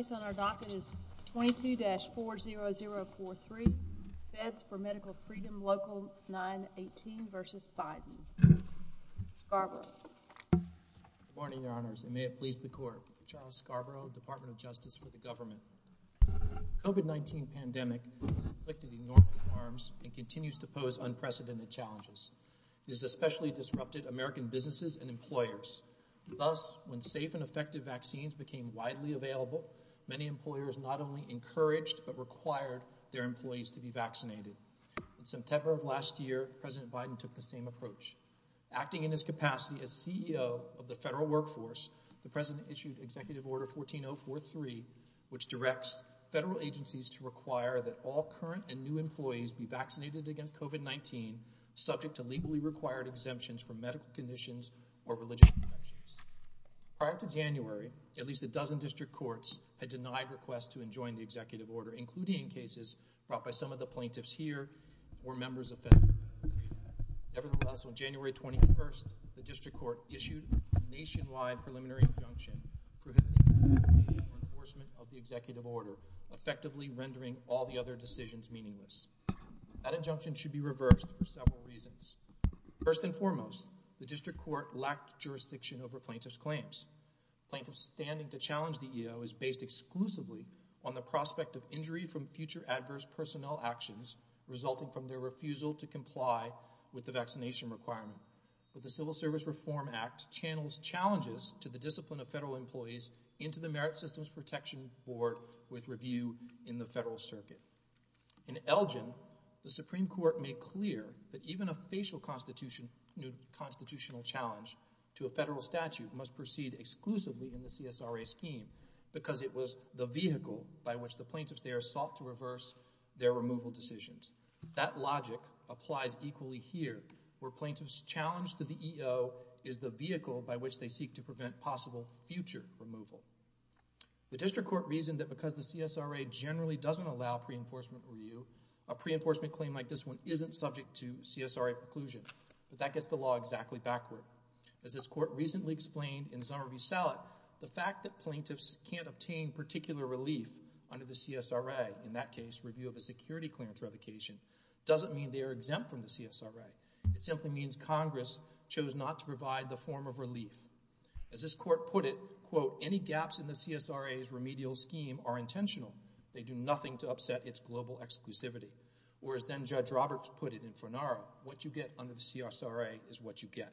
The case on our docket is 22-40043, Feds for Medical Freedom, Local 918 v. Biden. Scarborough. Good morning, Your Honors, and may it please the Court. Charles Scarborough, Department of Justice for the Government. The COVID-19 pandemic has inflicted enormous harms and continues to pose unprecedented challenges. It has especially disrupted American businesses and employers. Thus, when safe and effective vaccines became widely available, many employers not only encouraged but required their employees to be vaccinated. In September of last year, President Biden took the same approach. Acting in his capacity as CEO of the federal workforce, the President issued Executive Order 14043, which directs federal agencies to require that all current and new employees be vaccinated against COVID-19, subject to legally required exemptions from medical conditions or religious conventions. Prior to January, at least a dozen district courts had denied requests to enjoin the Executive Order, including in cases brought by some of the plaintiffs here or members of federal community. Nevertheless, on January 21st, the District Court issued a nationwide preliminary injunction prohibiting the implementation or enforcement of the Executive Order, effectively rendering all the other decisions meaningless. That injunction should be reversed for several reasons. First and foremost, the District Court lacked jurisdiction over plaintiffs' claims. Plaintiffs' standing to challenge the EO is based exclusively on the prospect of injury from future adverse personnel actions resulting from their refusal to comply with the vaccination requirement. But the Civil Service Reform Act channels challenges to the discipline of federal employees into the Merit Systems Protection Board with review in the federal circuit. In Elgin, the Supreme Court made clear that even a facial constitutional challenge to a federal statute must proceed exclusively in the CSRA scheme because it was the vehicle by which the plaintiffs there sought to reverse their removal decisions. That logic applies equally here, where plaintiffs' challenge to the EO is the vehicle by which they seek to prevent possible future removal. The District Court reasoned that because the CSRA generally doesn't allow pre-enforcement review, a pre-enforcement claim like this one isn't subject to CSRA preclusion. But that gets the law exactly backward. As this Court recently explained in Zomerview-Salot, the fact that plaintiffs can't obtain particular relief under the CSRA, in that case, review of a security clearance revocation, doesn't mean they are exempt from the CSRA. It simply means Congress chose not to provide the form of relief. As this Court put it, quote, any gaps in the CSRA's remedial scheme are intentional. They do nothing to upset its global exclusivity. Whereas then Judge Roberts put it in Fornaro, what you get under the CSRA is what you get.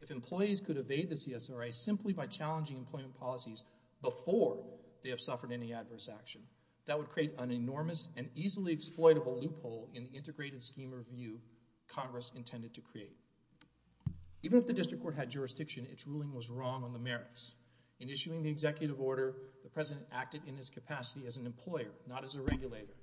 If employees could evade the CSRA simply by challenging employment policies before they have suffered any adverse action, that would create an enormous and easily exploitable loophole in the integrated scheme review Congress intended to create. Even if the District Court had jurisdiction, its ruling was wrong on the merits. In issuing the executive order, the President acted in his capacity as an employer, not as a regulator.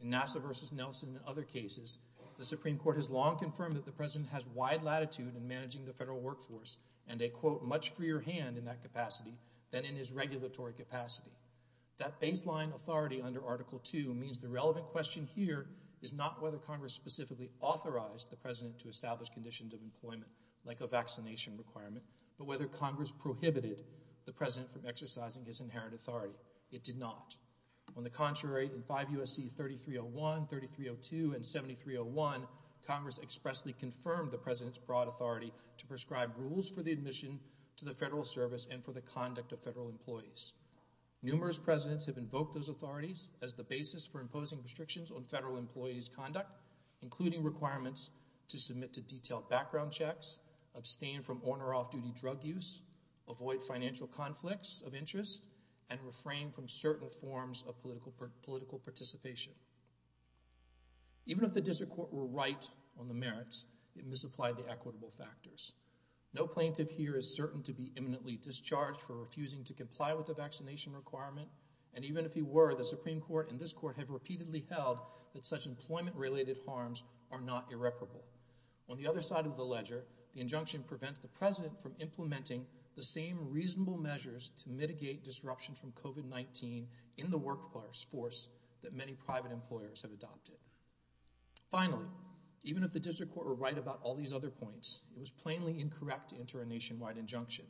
In Nassau v. Nelson and other cases, the Supreme Court has long confirmed that the President has wide latitude in managing the federal workforce and a, quote, much freer hand in that capacity than in his regulatory capacity. That baseline authority under Article II means the relevant question here is not whether Congress authorized the President to establish conditions of employment, like a vaccination requirement, but whether Congress prohibited the President from exercising his inherent authority. It did not. On the contrary, in 5 U.S.C. 3301, 3302, and 7301, Congress expressly confirmed the President's broad authority to prescribe rules for the admission to the federal service and for the conduct of federal employees. Numerous Presidents have invoked those authorities as the basis for imposing restrictions on to submit to detailed background checks, abstain from on or off-duty drug use, avoid financial conflicts of interest, and refrain from certain forms of political participation. Even if the District Court were right on the merits, it misapplied the equitable factors. No plaintiff here is certain to be imminently discharged for refusing to comply with a vaccination requirement, and even if he were, the Supreme Court and this Court have repeatedly held that such employment-related harms are not irreparable. On the other side of the ledger, the injunction prevents the President from implementing the same reasonable measures to mitigate disruption from COVID-19 in the workforce that many private employers have adopted. Finally, even if the District Court were right about all these other points, it was plainly incorrect to enter a nationwide injunction.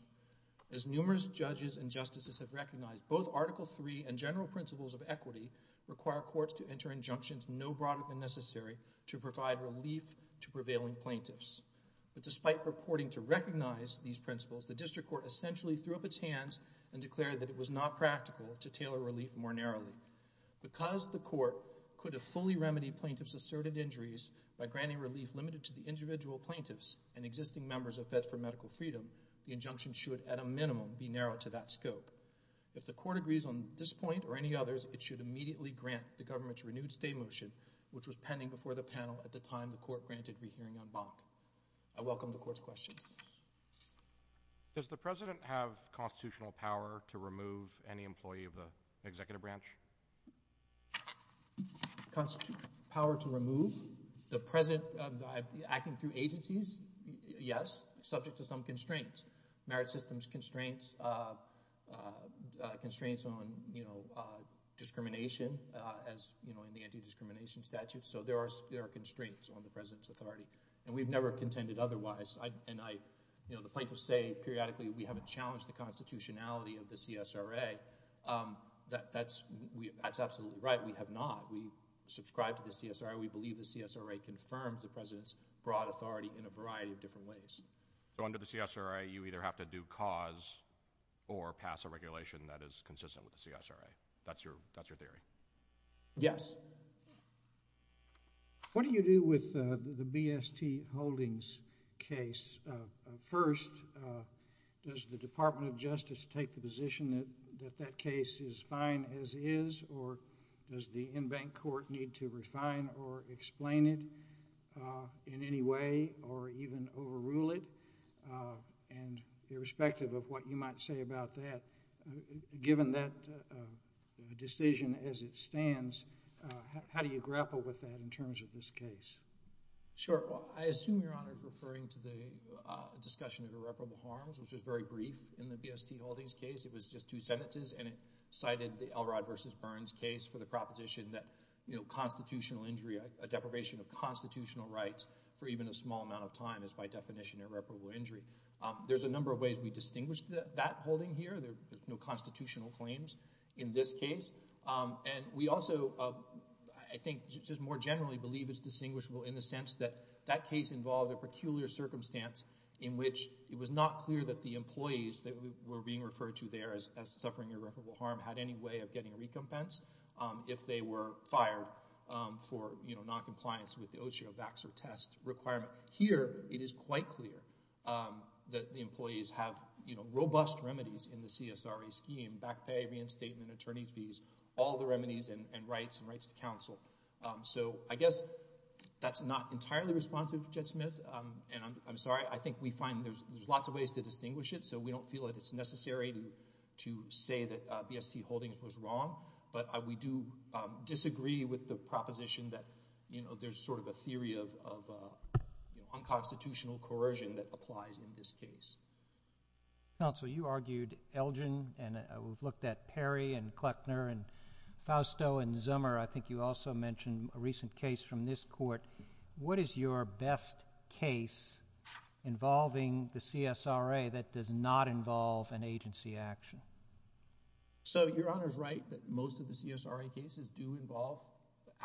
As numerous judges and justices have recognized, both Article III and general principles of the Constitution are injunctions no broader than necessary to provide relief to prevailing plaintiffs. But despite purporting to recognize these principles, the District Court essentially threw up its hands and declared that it was not practical to tailor relief more narrowly. Because the Court could have fully remedied plaintiffs' asserted injuries by granting relief limited to the individual plaintiffs and existing members of Feds for Medical Freedom, the injunction should, at a minimum, be narrow to that scope. If the Court agrees on this point or any others, it should immediately grant the government's renewed stay motion, which was pending before the panel at the time the Court granted rehearing en banc. I welcome the Court's questions. Does the President have constitutional power to remove any employee of the Executive Branch? Power to remove? The President, acting through agencies, yes, subject to some constraints. Merit systems constraints, constraints on, you know, discrimination, as, you know, in the Anti-Discrimination Statute. So there are, there are constraints on the President's authority, and we've never contended otherwise. I, and I, you know, the plaintiffs say periodically we haven't challenged the constitutionality of the CSRA. That, that's, we, that's absolutely right. We have not. We subscribe to the CSRA. We believe the CSRA confirms the President's broad authority in a variety of different ways. So under the CSRA, you either have to do cause or pass a regulation that is consistent with the CSRA. That's your, that's your theory? Yes. What do you do with the, the BST Holdings case? First, does the Department of Justice take the position that, that that case is fine as is, or does the en banc court need to refine or explain it in any way or even overrule it? Uh, and irrespective of what you might say about that, uh, given that, uh, decision as it stands, uh, how, how do you grapple with that in terms of this case? Sure. Well, I assume Your Honor is referring to the, uh, discussion of irreparable harms, which is very brief in the BST Holdings case. It was just two sentences, and it cited the Elrod versus Burns case for the proposition that, you know, constitutional injury, a, a deprivation of constitutional rights for even a small amount of time is by definition irreparable injury. Um, there's a number of ways we distinguish that, that holding here. There, there's no constitutional claims in this case. Um, and we also, uh, I, I think just more generally believe it's distinguishable in the sense that that case involved a peculiar circumstance in which it was not clear that the employees that were being referred to there as, as suffering irreparable harm had any way of getting recompense, um, if they were fired, um, for, you know, noncompliance with the OSHA or VAX or TEST requirement. Here it is quite clear, um, that the employees have, you know, robust remedies in the CSRA scheme, back pay, reinstatement, attorney fees, all the remedies and, and rights and rights to counsel. Um, so I guess that's not entirely responsive, Judge Smith, um, and I'm, I'm sorry, I think we find there's, there's lots of ways to distinguish it, so we don't feel that it's necessary to, to say that, uh, BST Holdings was wrong, but, uh, we do, um, disagree with the proposition that, you know, there's sort of a theory of, of, uh, unconstitutional coercion that applies in this case. Counsel, you argued Elgin and, uh, we've looked at Perry and Kleckner and Fausto and Zummer. I think you also mentioned a recent case from this court. What is your best case involving the CSRA that does not involve an agency action? Um, so Your Honor's right that most of the CSRA cases do involve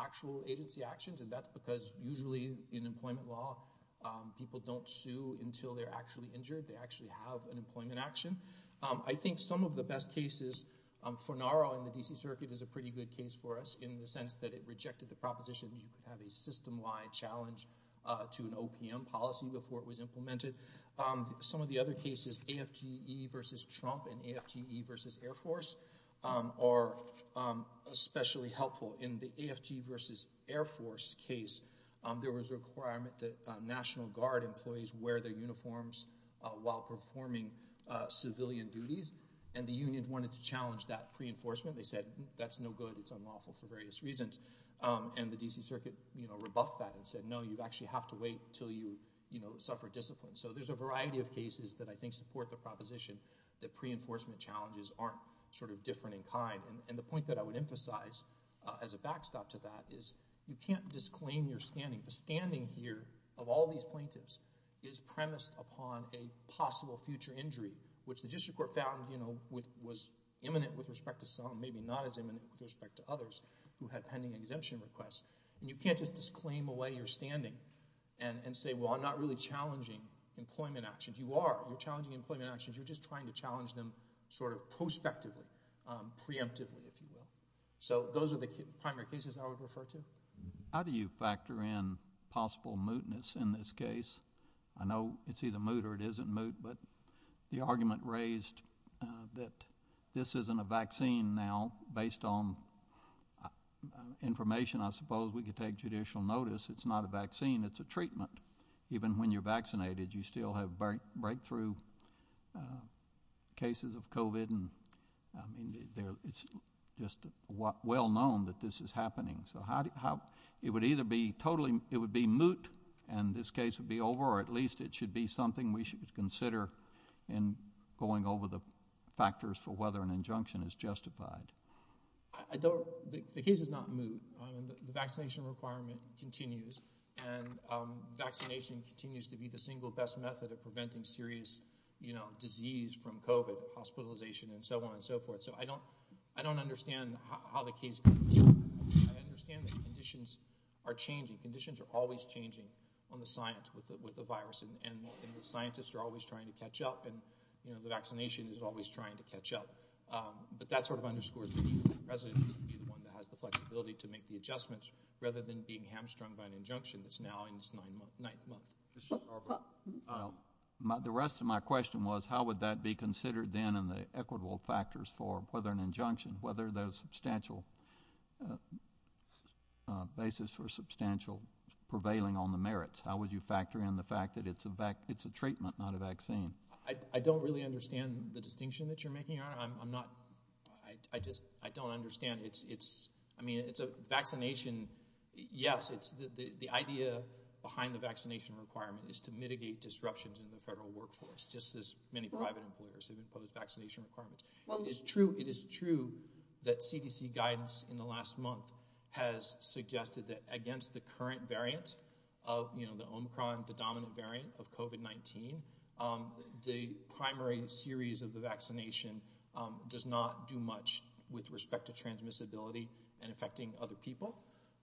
actual agency actions and that's because usually in employment law, um, people don't sue until they're actually injured. They actually have an employment action. Um, I think some of the best cases, um, Fornaro in the D.C. Circuit is a pretty good case for us in the sense that it rejected the proposition that you have a system-wide challenge, uh, to an OPM policy before it was implemented. Um, some of the other cases, AFGE versus Trump and AFGE versus Air Force, um, are, um, especially helpful. In the AFGE versus Air Force case, um, there was a requirement that, uh, National Guard employees wear their uniforms, uh, while performing, uh, civilian duties and the union wanted to challenge that pre-enforcement. They said, that's no good. It's unlawful for various reasons. Um, and the D.C. Circuit, you know, rebuffed that and said, no, you actually have to wait until you, you know, suffer discipline. So there's a variety of cases that I think support the proposition that pre-enforcement challenges aren't sort of different in kind. And, and the point that I would emphasize, uh, as a backstop to that is you can't disclaim your standing. The standing here of all these plaintiffs is premised upon a possible future injury, which the district court found, you know, with, was imminent with respect to some, maybe not as imminent with respect to others who had pending exemption requests. And you can't just disclaim away your standing and, and say, well, I'm not really challenging employment actions. You are. You're challenging employment actions. You're just trying to challenge them sort of prospectively, um, preemptively, if you will. So those are the primary cases I would refer to. How do you factor in possible mootness in this case? I know it's either moot or it isn't moot, but the argument raised, uh, that this isn't a vaccine. Now, based on, uh, information, I suppose we could take judicial notice, it's not a vaccine. It's a treatment. Even when you're vaccinated, you still have break, breakthrough, uh, cases of COVID and, I mean, there, it's just well known that this is happening. So how, how, it would either be totally, it would be moot and this case would be over or at least it should be something we should consider in going over the factors for whether an injunction is justified. I don't, the case is not moot. The vaccination requirement continues and, um, vaccination continues to be the single best method of preventing serious, you know, disease from COVID, hospitalization and so on and so forth. So I don't, I don't understand how the case, I understand the conditions are changing. Conditions are always changing on the science with the, with the virus and the scientists are always trying to catch up and, you know, the vaccination is always trying to catch up. But that's sort of underscores the need for the president to be the one who has the flexibility to make the adjustments rather than being hamstrung by an injunction that's now in its ninth month, ninth month. Um, the rest of my question was how would that be considered then in the equitable factors for whether an injunction, whether the substantial, uh, uh, basis for substantial prevailing on the merits. How would you factor in the fact that it's a, it's a treatment, not a vaccine? I don't really understand the distinction that you're making on it. I'm not, I just, I don't understand. It's, it's, I mean, it's a vaccination. Yes, it's the, the, the idea behind the vaccination requirement is to mitigate disruptions in the federal workforce, just as many private employers have imposed vaccination requirements. Well, it's true. It is true that CDC guidance in the last month has suggested that against the current variant of, you know, the Omicron, the domino variant of COVID-19, um, the primary series of the vaccination, um, does not do much with respect to transmissibility and affecting other people.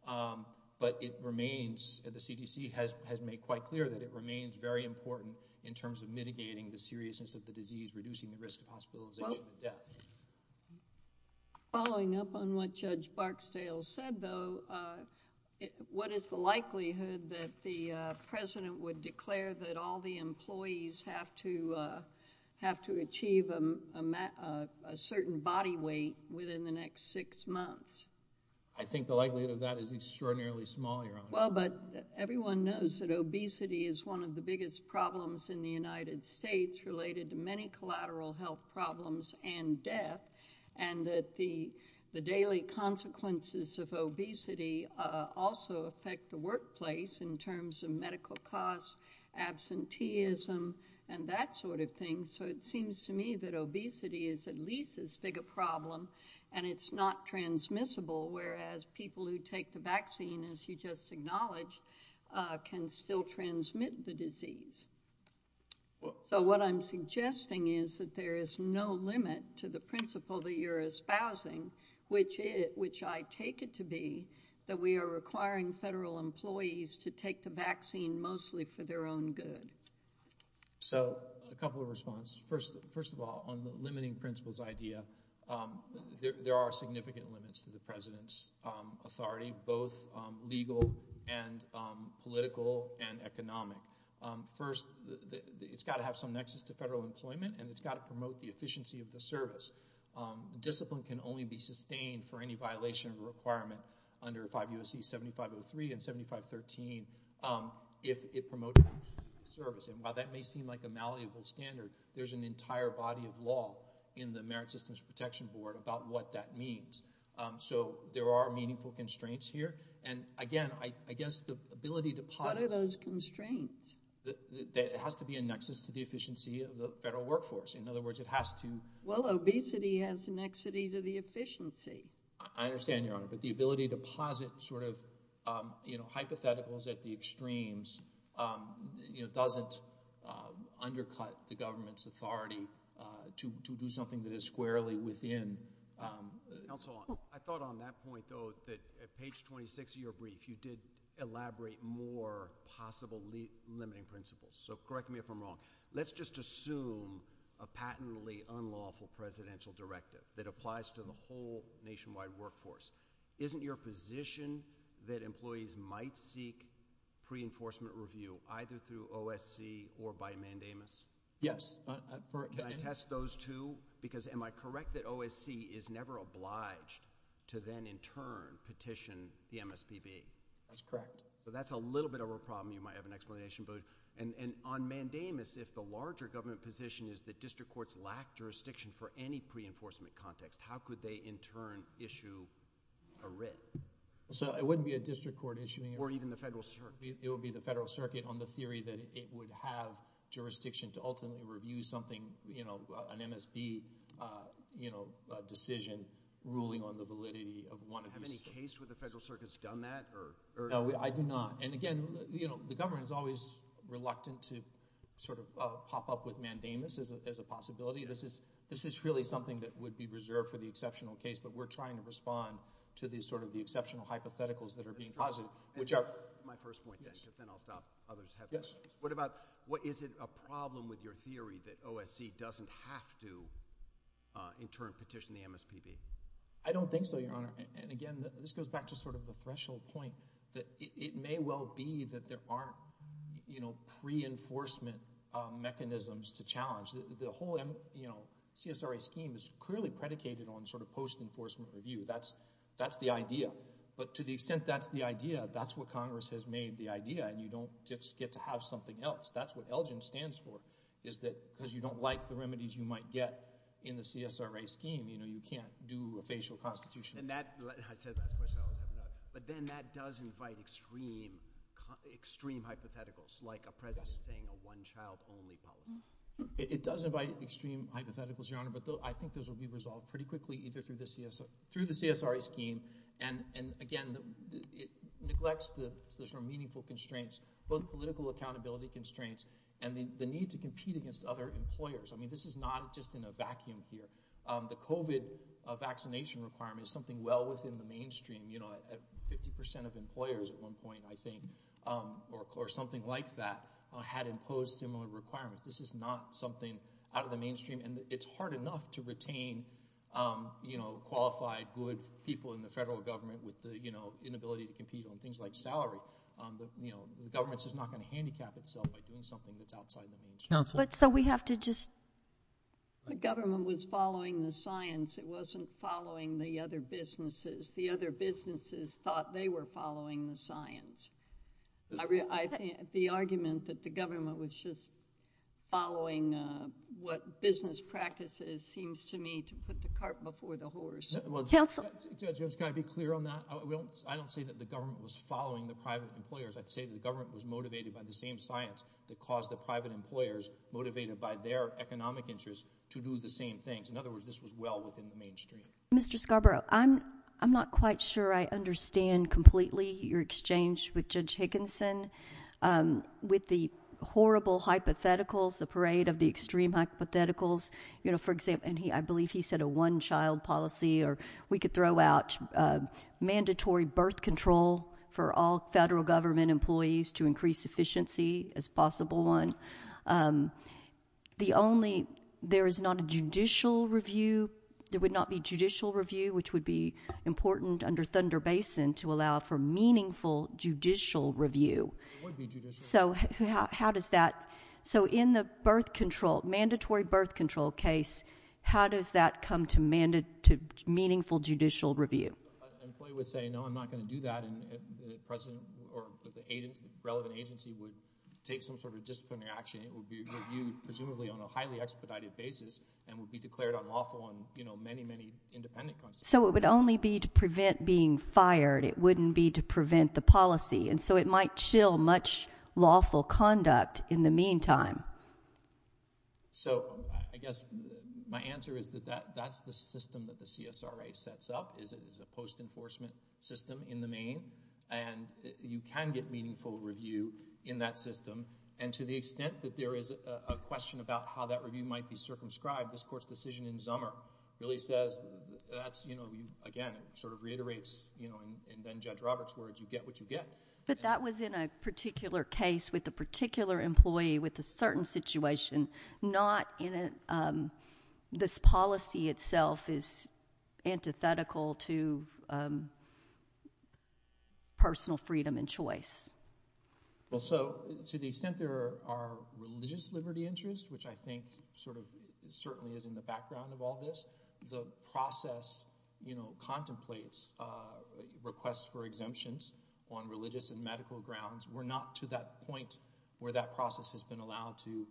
Um, but it remains, the CDC has, has made quite clear that it remains very important in terms of mitigating the seriousness of the disease, reducing the risk of hospitalization and death. Following up on what Judge Barksdale said, though, uh, what is the likelihood that the, uh, president would declare that all the employees have to, uh, have to achieve a, a, a, a certain body weight within the next six months? I think the likelihood of that is extraordinarily small, Your Honor. Well, but everyone knows that obesity is one of the biggest problems in the United States and is related to many collateral health problems and death, and that the, the daily consequences of obesity, uh, also affect the workplace in terms of medical costs, absenteeism, and that sort of thing. So it seems to me that obesity is at least as big a problem and it's not transmissible, whereas people who take the vaccine, as you just acknowledged, uh, can still transmit the disease. So what I'm suggesting is that there is no limit to the principle that you're espousing, which is, which I take it to be, that we are requiring federal employees to take the vaccine mostly for their own good. So a couple of response. First, first of all, on the limiting principles idea, um, there, there are significant limits to the president's, um, authority, both, um, legal and, um, political and economic. Um, first, the, the, it's got to have some nexus to federal employment and it's got to promote the efficiency of the service. Um, discipline can only be sustained for any violation of a requirement under 5 U.S.C. 7503 and 7513, um, if it promotes service. And while that may seem like a malleable standard, there's an entire body of law in the Merit Systems Protection Board about what that means. Um, so there are meaningful constraints here. And again, I, I guess the ability to posit- That, that has to be a nexus to the efficiency of the federal workforce. In other words, it has to- Well, obesity has a nexity to the efficiency. I understand, Your Honor, but the ability to posit sort of, um, you know, hypotheticals at the extremes, um, you know, doesn't, um, undercut the government's authority, uh, to, to do something that is squarely within, um- Counsel, I thought on that point though, that at page 26 of your brief, you did elaborate more possible li- limiting principles. So correct me if I'm wrong. Let's just assume a patently unlawful presidential directive that applies to the whole nationwide workforce. Isn't your position that employees might seek pre-enforcement review either through OSC or by mandamus? Yes. Uh, uh, for- Can I test those two? Because am I correct that OSC is never obliged to then in turn petition the MSPB? That's correct. Yes. But that's a little bit of a problem. You might have an explanation, but, and, and on mandamus, if the larger government position is that district courts lack jurisdiction for any pre-enforcement context, how could they in turn issue a writ? So it wouldn't be a district court issuing a writ- Or even the Federal Circuit. It would be the Federal Circuit on the theory that it would have jurisdiction to ultimately review something, you know, uh, an MSB, uh, you know, uh, decision ruling on the validity Have any case where the Federal Circuit's done that or, or- No, I do not. And again, you know, the government is always reluctant to sort of, uh, pop up with mandamus as a, as a possibility. This is, this is really something that would be reserved for the exceptional case, but we're trying to respond to these sort of the exceptional hypotheticals that are being posited, which are- My first point then, but then I'll stop. Others have their- Yes. What about, what, is it a problem with your theory that OSC doesn't have to, uh, in turn petition the MSPB? I don't think so, Your Honor. And again, this goes back to sort of the threshold point that it, it may well be that there aren't, you know, pre-enforcement, uh, mechanisms to challenge. The whole, you know, CSRA scheme is clearly predicated on sort of post-enforcement review. That's, that's the idea. But to the extent that's the idea, that's what Congress has made the idea and you don't just get to have something else. That's what ELGIN stands for, is that because you don't like the remedies you might get in the CSRA scheme, you know, you can't do a facial constitution. And that, I said last question, but then that does invite extreme, extreme hypotheticals, like a president saying a one-child-only policy. It does invite extreme hypotheticals, Your Honor, but I think those will be resolved pretty quickly either through the CSRA, through the CSRA scheme and, and again, it neglects the sort of meaningful constraints, both political accountability constraints and the, the need to compete against other employers. I mean, this is not just in a vacuum here. The COVID vaccination requirement is something well within the mainstream, you know, 50% of employers at one point, I think, or, or something like that had imposed similar requirements. This is not something out of the mainstream and it's hard enough to retain, you know, qualified, good people in the federal government with the, you know, inability to compete on things like salary. But, you know, the government's just not going to handicap itself by doing something that's outside the mainstream. Counsel. But, so we have to just. The government was following the science, it wasn't following the other businesses. The other businesses thought they were following the science. The argument that the government was just following what business practices seems to me to put the cart before the horse. Counsel. Judge, Judge, can I be clear on that? I don't, I don't say that the government was following the private employers. I'd say the government was motivated by the same science that caused the private employers motivated by their economic interests to do the same things. In other words, this was well within the mainstream. Counsel. Mr. Scarborough, I'm, I'm not quite sure I understand completely your exchange with Judge Higginson with the horrible hypotheticals, the parade of the extreme hypotheticals. You know, for example, and he, I believe he said a one child policy or we could throw out a mandatory birth control for all federal government employees to increase efficiency as possible one. Um, the only, there is not a judicial review, there would not be judicial review, which would be important under Thunder Basin to allow for meaningful judicial review. So how, how does that, so in the birth control, mandatory birth control case, how does that come to mandate to meaningful judicial review? Employee would say, no, I'm not going to do that. And then the president or the agent, relevant agency would take some sort of disciplinary action. It would be reviewed presumably on a highly expedited basis and would be declared unlawful on many, many independent. So it would only be to prevent being fired. It wouldn't be to prevent the policy. And so it might chill much lawful conduct in the meantime. So I guess my answer is that that that's the system that the CSRA sets up is a post enforcement system in the main and you can get meaningful review in that system. And to the extent that there is a question about how that review might be circumscribed, this court's decision in Zummer really says that's, you know, again, it sort of reiterates, you know, and then Judge Roberts' words, you get what you get. But that was in a particular case with a particular employee with a certain situation, not in a particular case. So to the extent that this policy itself is antithetical to personal freedom and choice. So to the extent there are religious liberty interests, which I think sort of certainly is in the background of all this, the process, you know, contemplates requests for exemptions on religious and medical grounds. We're not to that point where that process has been allowed to,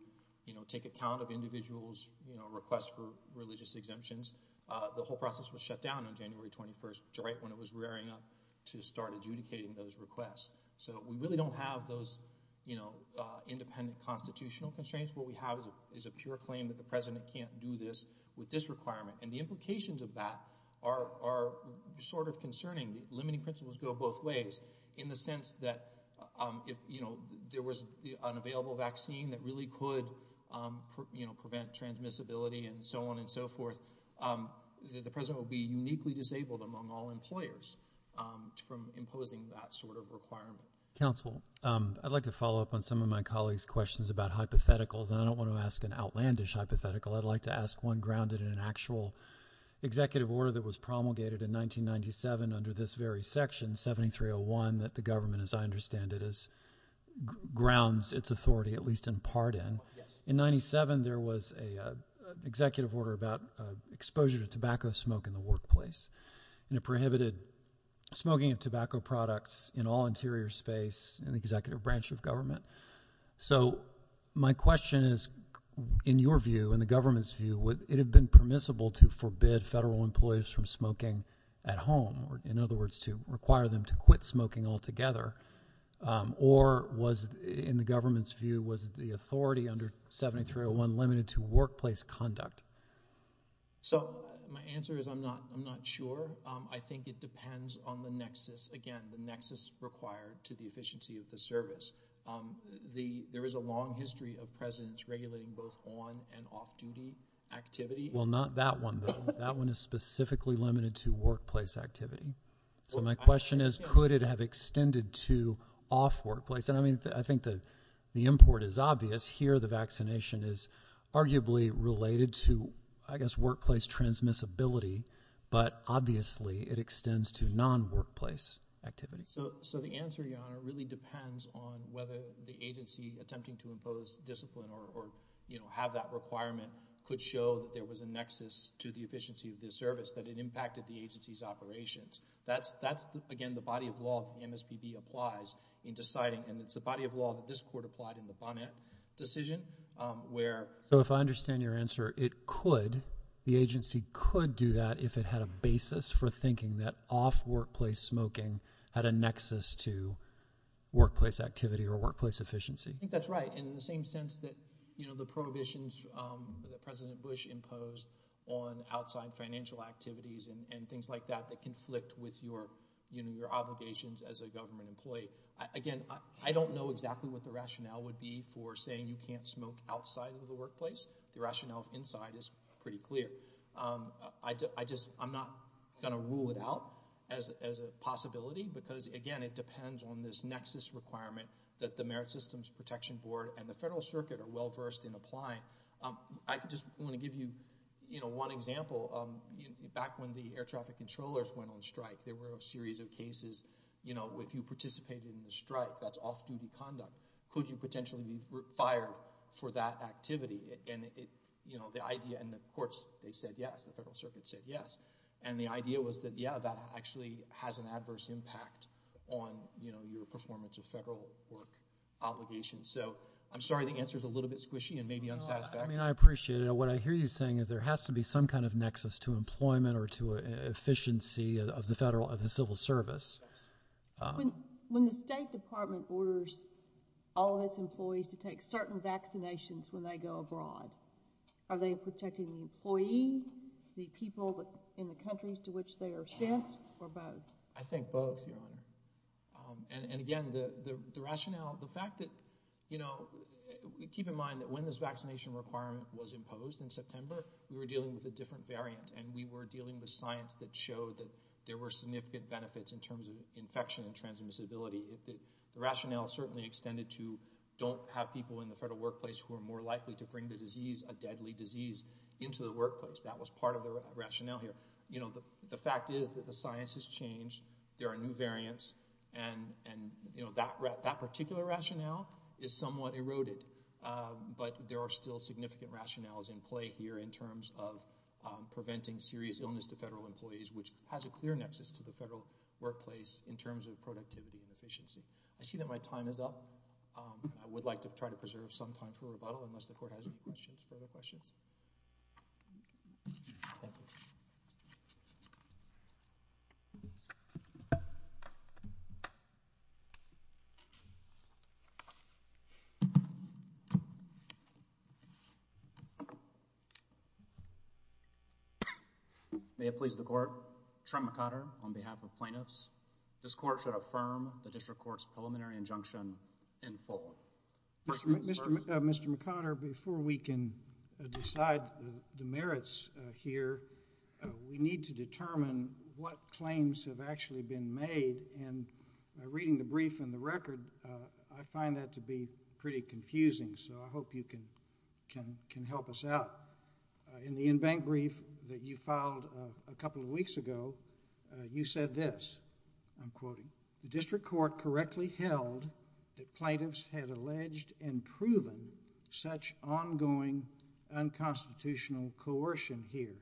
you know, take account of individuals, you know, requests for religious exemptions. The whole process was shut down on January 21st, right when it was rearing up to start adjudicating those requests. So we really don't have those, you know, independent constitutional constraints. What we have is a pure claim that the president can't do this with this requirement. And the implications of that are sort of concerning. The limiting principles go both ways in the sense that if, you know, there was an available vaccine that really could, you know, prevent transmissibility and so on and so forth, that the president would be uniquely disabled among all employers from imposing that sort of requirement. Counsel, I'd like to follow up on some of my colleagues' questions about hypotheticals. And I don't want to ask an outlandish hypothetical. I'd like to ask one grounded in an actual executive order that was promulgated in 1997 under this very section, 7301, that the government, as I understand it, grounds its authority, at least in part, in. Yes. In 97, there was an executive order about exposure to tobacco smoke in the workplace. And it prohibited smoking of tobacco products in all interior space in the executive branch of government. So my question is, in your view, in the government's view, would it have been permissible to forbid federal employees from smoking at home, or in other words, to require them to quit smoking altogether, or was, in the government's view, was the authority under 7301 limited to workplace conduct? So my answer is I'm not sure. I think it depends on the nexus, again, the nexus required to the efficiency of the service. There is a long history of presidents regulating both on and off-duty activity. Well, not that one, though. That one is specifically limited to workplace activity. So my question is, could it have extended to off-workplace? And I mean, I think the import is obvious. Here, the vaccination is arguably related to, I guess, workplace transmissibility. But obviously, it extends to non-workplace activity. So the answer, Your Honor, really depends on whether the agency attempting to impose discipline or, you know, have that requirement could show that there was a nexus to the efficiency of the service, that it impacted the agency's operations. That's, again, the body of law that the MSPB applies in deciding. And it's the body of law that this Court applied in the Bonnet decision, where... So if I understand your answer, it could, the agency could do that if it had a basis for thinking that off-workplace smoking had a nexus to workplace activity or workplace efficiency. I think that's right. And in the same sense that, you know, the prohibitions that President Bush imposed on outside financial activities and things like that that conflict with your, you know, your obligations as a government employee. Again, I don't know exactly what the rationale would be for saying you can't smoke outside of the workplace. The rationale inside is pretty clear. I just, I'm not going to rule it out as a possibility because, again, it depends on this nexus requirement that the Merit Systems Protection Board and the Federal Circuit are well-versed in applying. I just want to give you, you know, one example. Back when the air traffic controllers went on strike, there were a series of cases, you know, if you participated in the strike, that's off-duty conduct. Could you potentially be fired for that activity? And, you know, the idea, and the courts, they said yes. The Federal Circuit said yes. And the idea was that, yeah, that actually has an adverse impact on, you know, your performance of federal work obligations. So, I'm sorry the answer's a little bit squishy and maybe unsatisfactory. I mean, I appreciate it. What I hear you saying is there has to be some kind of nexus to employment or to efficiency of the federal, of the civil service. When the State Department orders all of its employees to take certain vaccinations when they go abroad, are they protecting the employee, the people in the countries to which they are sent, or both? I think both, Your Honor. And, again, the rationale, the fact that, you know, keep in mind that when this vaccination requirement was imposed in September, we were dealing with a different variant. And we were dealing with science that showed that there were significant benefits in terms of infection and transmissibility. The rationale certainly extended to don't have people in the federal workplace who are more likely to bring the disease, a deadly disease, into the workplace. That was part of the rationale here. You know, the fact is that the science has changed. There are new variants. And, you know, that particular rationale is somewhat eroded. But there are still significant rationales in play here in terms of preventing serious illness to federal employees, which has a clear nexus to the federal workplace in terms of productivity and efficiency. I see that my time is up. I would like to try to preserve some time for rebuttal unless the Court has any questions, further questions. Thank you. May it please the Court. Trent McConner on behalf of plaintiffs. This Court should affirm the District Court's preliminary injunction in full. Mr. McConner, before we can decide the merits here, we need to determine what claims have actually been made. And reading the brief and the record, I find that to be pretty confusing. So I hope you can help us out. In the in-bank brief that you filed a couple of weeks ago, you said this, I'm quoting, the District Court correctly held that plaintiffs had alleged and proven such ongoing unconstitutional coercion here.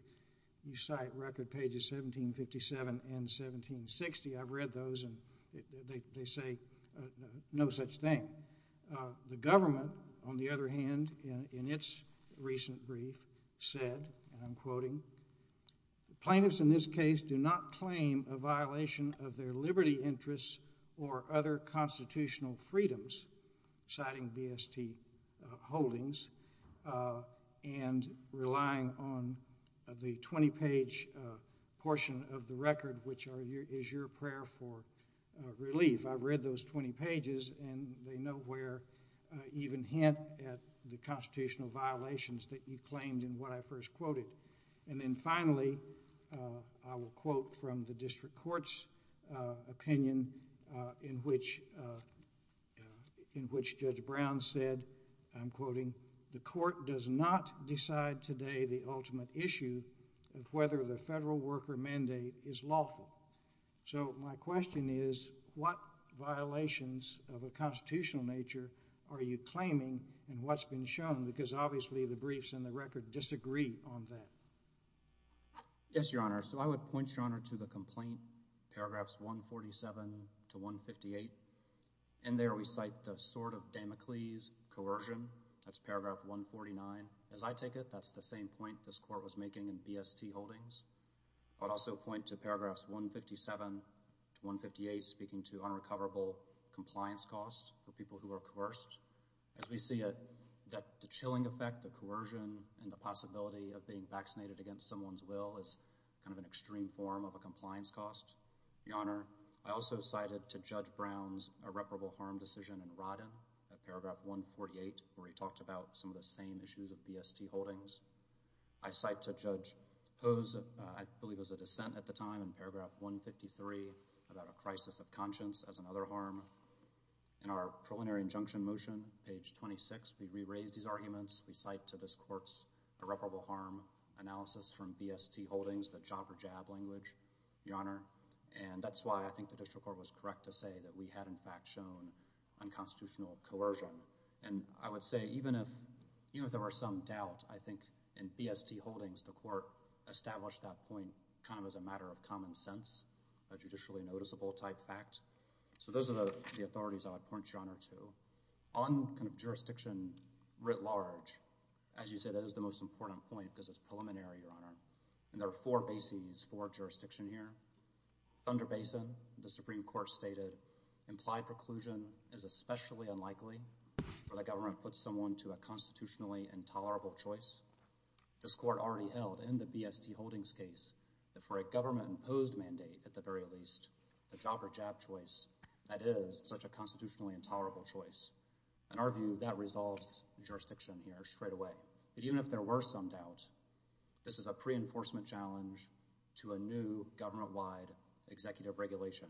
You cite record pages 1757 and 1760. I've read those, and they say no such thing. And the government, on the other hand, in its recent brief, said, and I'm quoting, plaintiffs in this case do not claim a violation of their liberty interests or other constitutional freedoms, citing BST holdings, and relying on the 20-page portion of the record, which is your prayer for relief. I've read those 20 pages, and they nowhere even hint at the constitutional violations that you claimed in what I first quoted. And then finally, I will quote from the District Court's opinion, in which Judge Brown said, I'm quoting, the Court does not decide today the ultimate issue of whether the federal worker mandate is lawful. So my question is, what violations of a constitutional nature are you claiming in what's been shown? Because obviously the briefs in the record disagree on that. Yes, Your Honor. So I would point, Your Honor, to the complaint, paragraphs 147 to 158. And there we cite the sort of Damocles coercion. That's paragraph 149. As I take it, that's the same point this Court was making in BST holdings. I would also point to paragraphs 157 to 158, speaking to unrecoverable compliance costs for people who are coerced. As we see it, the chilling effect, the coercion, and the possibility of being vaccinated against someone's will is kind of an extreme form of a compliance cost. Your Honor, I also cited to Judge Brown's irreparable harm decision in Rodham, paragraph 148, where he talked about some of the same issues of BST holdings. I cite to Judge Ho's, I believe it was a dissent at the time, in paragraph 153, about a crisis of conscience as another harm. In our preliminary injunction motion, page 26, we re-raised these arguments. We cite to this Court's irreparable harm analysis from BST holdings, the jobber jab language, Your Honor. And that's why I think the district court was correct to say that we had, in fact, shown unconstitutional coercion. And I would say, even if there were some doubt, I think in BST holdings, the Court established that point kind of as a matter of common sense, a judicially noticeable type fact. So those are the authorities I would point you on to. On jurisdiction writ large, as you said, that is the most important point because it's preliminary, Your Honor. And there are four bases for jurisdiction here. Thunder Basin, the Supreme Court stated, implied preclusion is especially unlikely for the government to put someone to a constitutionally intolerable choice. This Court already held in the BST holdings case that for a government-imposed mandate, at the very least, the jobber jab choice, that is such a constitutionally intolerable choice. In our view, that resolves jurisdiction here straight away. But even if there were some doubt, this is a pre-enforcement challenge to a new government-wide executive regulation.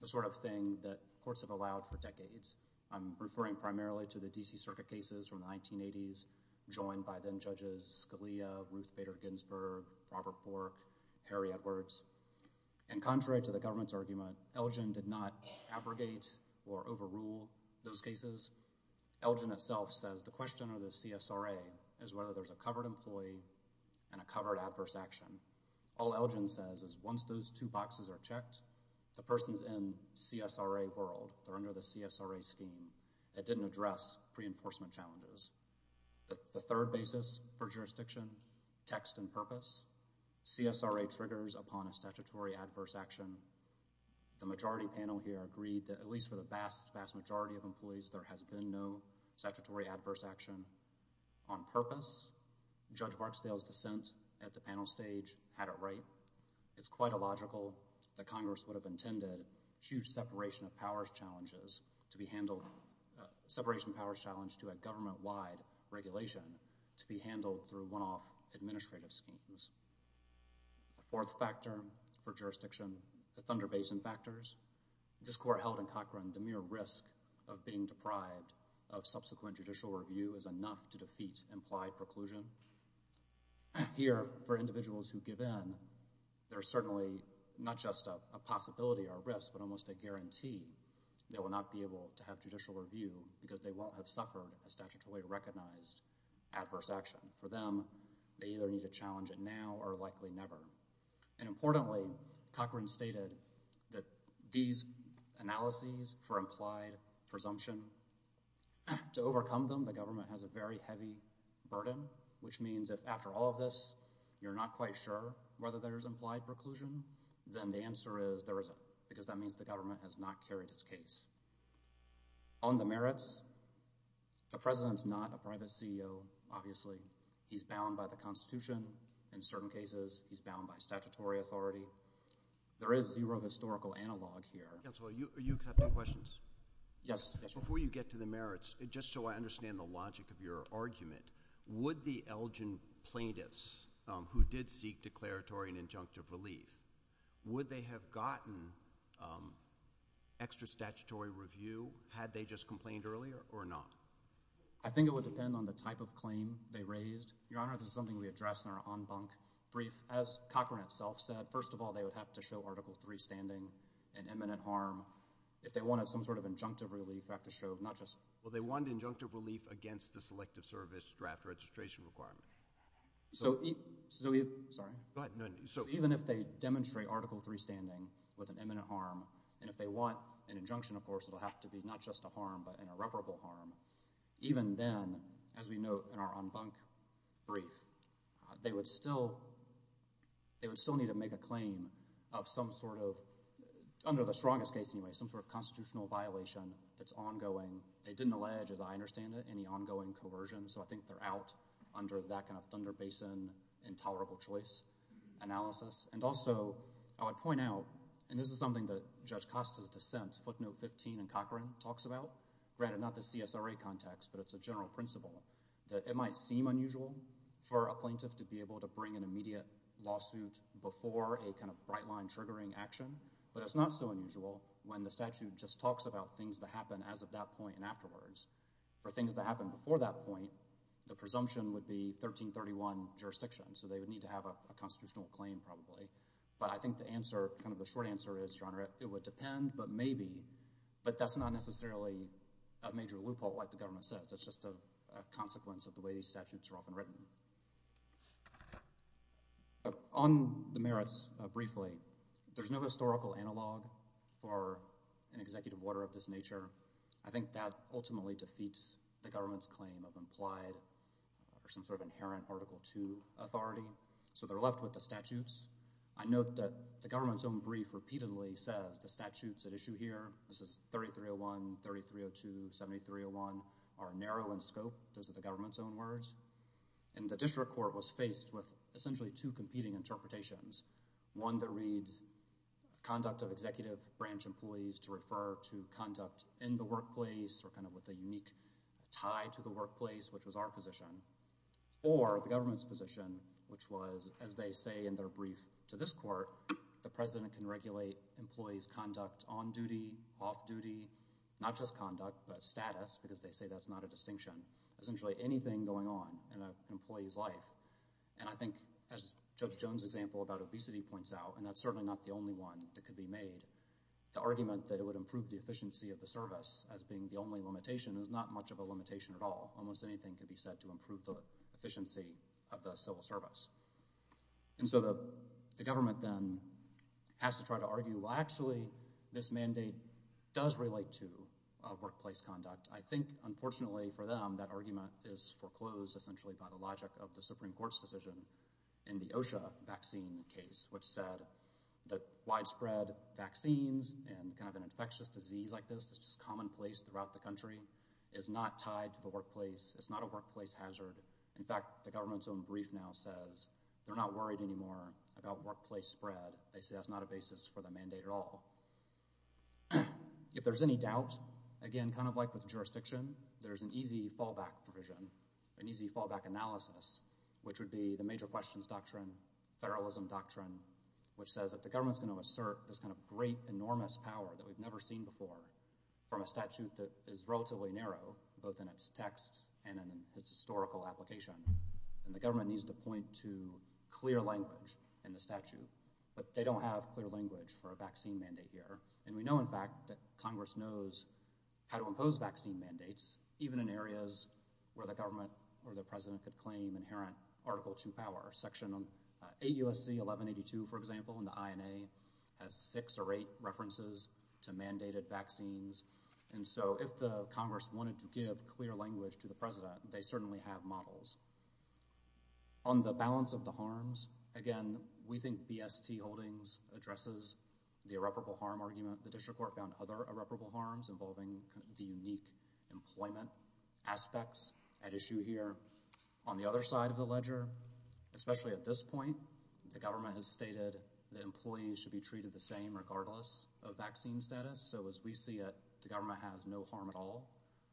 The sort of thing that courts have allowed for decades. I'm referring primarily to the D.C. Circuit cases from the 1980s, joined by then-judges Scalia, Ruth Bader Ginsburg, Robert Bork, Harry Edwards. And contrary to the government's argument, Elgin did not abrogate or overrule those cases. Elgin itself says the question of the CSRA is whether there's a covered employee and a covered adverse action. All Elgin says is once those two boxes are checked, the person's in CSRA world, they're under the CSRA scheme. It didn't address pre-enforcement challenges. The third basis for jurisdiction, text and purpose. CSRA triggers upon a statutory adverse action. The majority panel here agreed that at least for the vast, vast majority of employees, there has been no statutory adverse action. On purpose, Judge Barksdale's dissent at the panel stage had it right. It's quite illogical that Congress would have intended huge separation of powers challenges to be handled, separation of powers challenge to a government-wide regulation to be handled through one-off administrative schemes. The fourth factor for jurisdiction, the Thunder Basin factors. This court held in Cochran the mere risk of being deprived of subsequent judicial review is enough to defeat implied preclusion. Here, for individuals who give in, there's certainly not just a possibility or a risk, but almost a guarantee they will not be able to have judicial review because they won't have suffered a statutorily recognized adverse action. For them, they either need to challenge it now or likely never. Importantly, Cochran stated that these analyses for implied presumption, to overcome them, the government has a very heavy burden, which means if after all of this, you're not quite sure whether there's implied preclusion, then the answer is there isn't because that means the government has not carried its case. On the merits, the President's not a private CEO, obviously. He's bound by the Constitution. In certain cases, he's bound by statutory authority. There is zero historical analog here. Counselor, are you accepting questions? Yes. Before you get to the merits, just so I understand the logic of your argument, would the Elgin plaintiffs, who did seek declaratory and injunctive relief, would they have gotten extra statutory review had they just complained earlier or not? I think it would depend on the type of claim they raised. Your Honor, this is something we addressed in our en banc brief. As Cochran itself said, first of all, they would have to show Article III standing and imminent harm. If they wanted some sort of injunctive relief, they would have to show not just... Well, they wanted injunctive relief against the Selective Service draft registration requirement. So... Sorry? Go ahead. Even if they demonstrate Article III standing with an imminent harm, and if they want an injunction, of course, it will have to be not just a harm but an irreparable harm, even then, as we note in our en banc brief, they would still need to make a claim of some sort of, under the strongest case anyway, some sort of constitutional violation that's ongoing. They didn't allege, as I understand it, any ongoing coercion. So I think they're out under that kind of Thunder Basin intolerable choice analysis. And also, I would point out, and this is something that Judge Costa's dissent, footnote 15 in Cochran talks about, granted not the CSRA context, but it's a general principle, that it might seem unusual for a plaintiff to be able to bring an immediate lawsuit before a kind of bright line triggering action, but it's not so unusual when the statute just talks about things that happen as of that point and afterwards. For things that happen before that point, the presumption would be 1331 jurisdiction. So they would need to have a constitutional claim, probably. But I think the answer, kind of the short answer is, Your Honor, it would depend, but maybe. But that's not necessarily a major loophole, like the government says. It's just a consequence of the way these statutes are often written. On the merits briefly, there's no historical analog for an executive order of this nature. I think that ultimately defeats the government's claim of implied or some sort of inherent Article 2 authority. So they're left with the statutes. I note that the government's own brief repeatedly says the statutes at issue here, this is 3301, 3302, 7301, are narrow in scope. Those are the government's own words. And the district court was faced with essentially two competing interpretations. One that reads conduct of executive branch employees to refer to conduct in the workplace or kind of with a unique tie to the workplace, which was our position. Or the government's position, which was, as they say in their brief to this court, the president can regulate employees' conduct on duty, off duty, not just conduct, but status because they say that's not a distinction. Essentially anything going on in an employee's life. And I think, as Judge Jones' example about obesity points out, and that's certainly not the only one that could be made, the argument that it would improve the efficiency of the service as being the only limitation is not much of a limitation at all. Almost anything could be said to improve the efficiency of the civil service. And so the government then has to try to argue, well actually, this mandate does relate to workplace conduct. I think, unfortunately for them, that argument is foreclosed essentially by the logic of the Supreme Court's decision in the OSHA vaccine case, which said that widespread vaccines and kind of an infectious disease like this that's just commonplace throughout the country is not tied to the workplace. It's not a workplace hazard. In fact, the government's own brief now says they're not worried anymore about workplace spread. They say that's not a basis for the mandate at all. If there's any doubt, again, kind of like with jurisdiction, there's an easy fallback provision, an easy fallback analysis, which would be the major questions doctrine, federalism doctrine, which says if the government's going to assert this kind of great, enormous power that we've never seen before from a statute that is relatively narrow, both in its text and in its historical application, then the government needs to point to clear language in the statute. But they don't have clear language for a vaccine mandate here. And we know, in fact, that Congress knows how to impose vaccine mandates, even in areas where the government or the president could claim inherent Article II power. Section 8 U.S.C. 1182, for example, in the INA, has six or eight references to mandated vaccines. And so if the Congress wanted to give clear language to the president, they certainly have models. On the balance of the harms, again, we think BST Holdings addresses the irreparable harm argument. The district court found other irreparable harms involving the unique employment aspects at issue here. On the other side of the ledger, especially at this point, the government has stated that employees should be treated the same regardless of vaccine status. So as we see it, the government has no harm at all.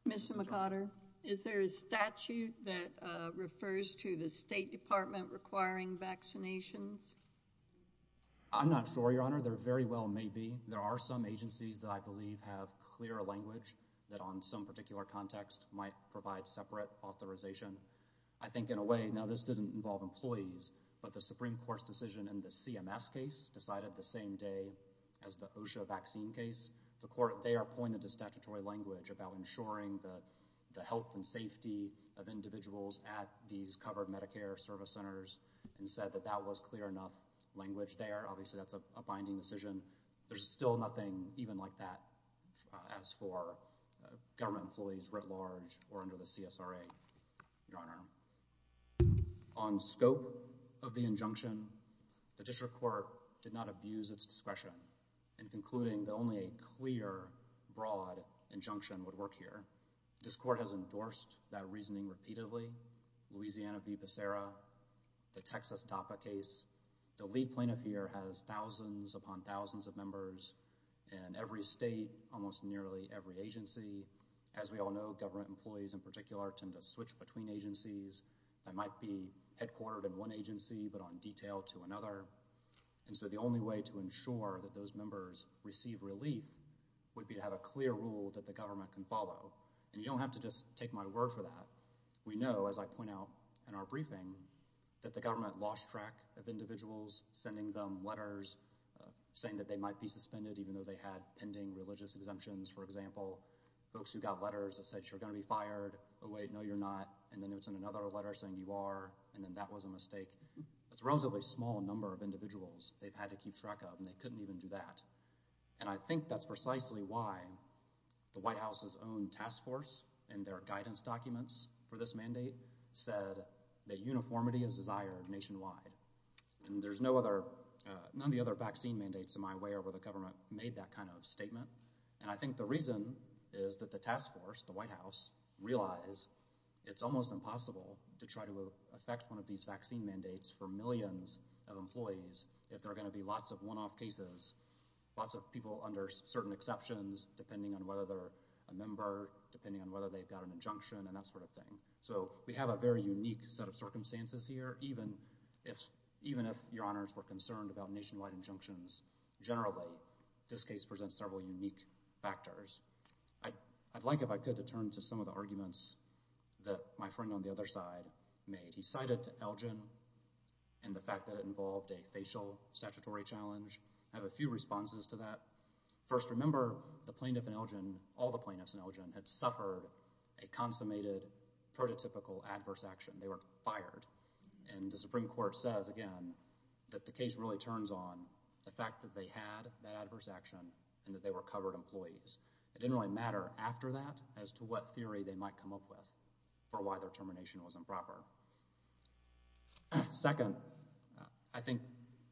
Mr. McOtter, is there a statute that refers to the State Department requiring vaccinations? I'm not sure, Your Honor. There very well may be. There are some agencies that I believe have clearer language that on some particular context might provide separate authorization. I think in a way, now this didn't involve employees, but the Supreme Court's decision in the CMS case decided the same day as the OSHA vaccine case. The court, they are pointed to statutory language about ensuring the health and safety of individuals at these covered Medicare service centers and said that that was clear enough language there. Obviously, that's a binding decision. There's still nothing even like that as for government employees writ large or under the CSRA, Your Honor. On scope of the injunction, the district court did not abuse its discretion in concluding that only a clear, broad injunction would work here. This court has endorsed that reasoning repeatedly. Louisiana v. Becerra, the Texas DAPA case, the lead plaintiff here has thousands upon thousands of members in every state, almost nearly every agency. As we all know, government employees in particular tend to switch between agencies that might be headquartered in one agency but on detail to another. The only way to ensure that those members receive relief would be to have a clear rule that the government can follow. You don't have to just take my word for that. We know, as I point out in our briefing, that the government lost track of individuals sending them letters saying that they might be suspended even though they had pending religious exemptions, for example. Folks who got letters that said you're going to be fired, oh wait, no you're not, and then it's another letter saying you are, and then that was a mistake. There's a relatively small number of individuals they've had to keep track of and they couldn't even do that. I think that's precisely why the White House's own task force and their guidance documents for this mandate said that uniformity is desired nationwide. None of the other vaccine mandates in my way are where the government made that kind of statement. I think the reason is that the task force, the White House realized it's almost impossible to try to effect one of these vaccine mandates for millions of employees if there are going to be lots of one-off cases, lots of people under certain exceptions depending on whether they're a member, depending on whether they've got an injunction and that sort of thing. So we have a very unique set of circumstances here, even if your honors were concerned about nationwide injunctions generally, this case presents several unique factors. I'd like, if I could, to turn to some of the arguments that my friend on the other side made. He cited Elgin and the fact that it involved a facial statutory challenge. I have a few responses to that. First, remember the plaintiff in Elgin, all the plaintiffs in Elgin, had suffered a consummated prototypical adverse action. They were fired. And the Supreme Court says, again, that the case really turns on the fact that they had that adverse action and that they were covered employees. It didn't really matter after that as to what theory they might come up with for why their termination was improper. Second, I think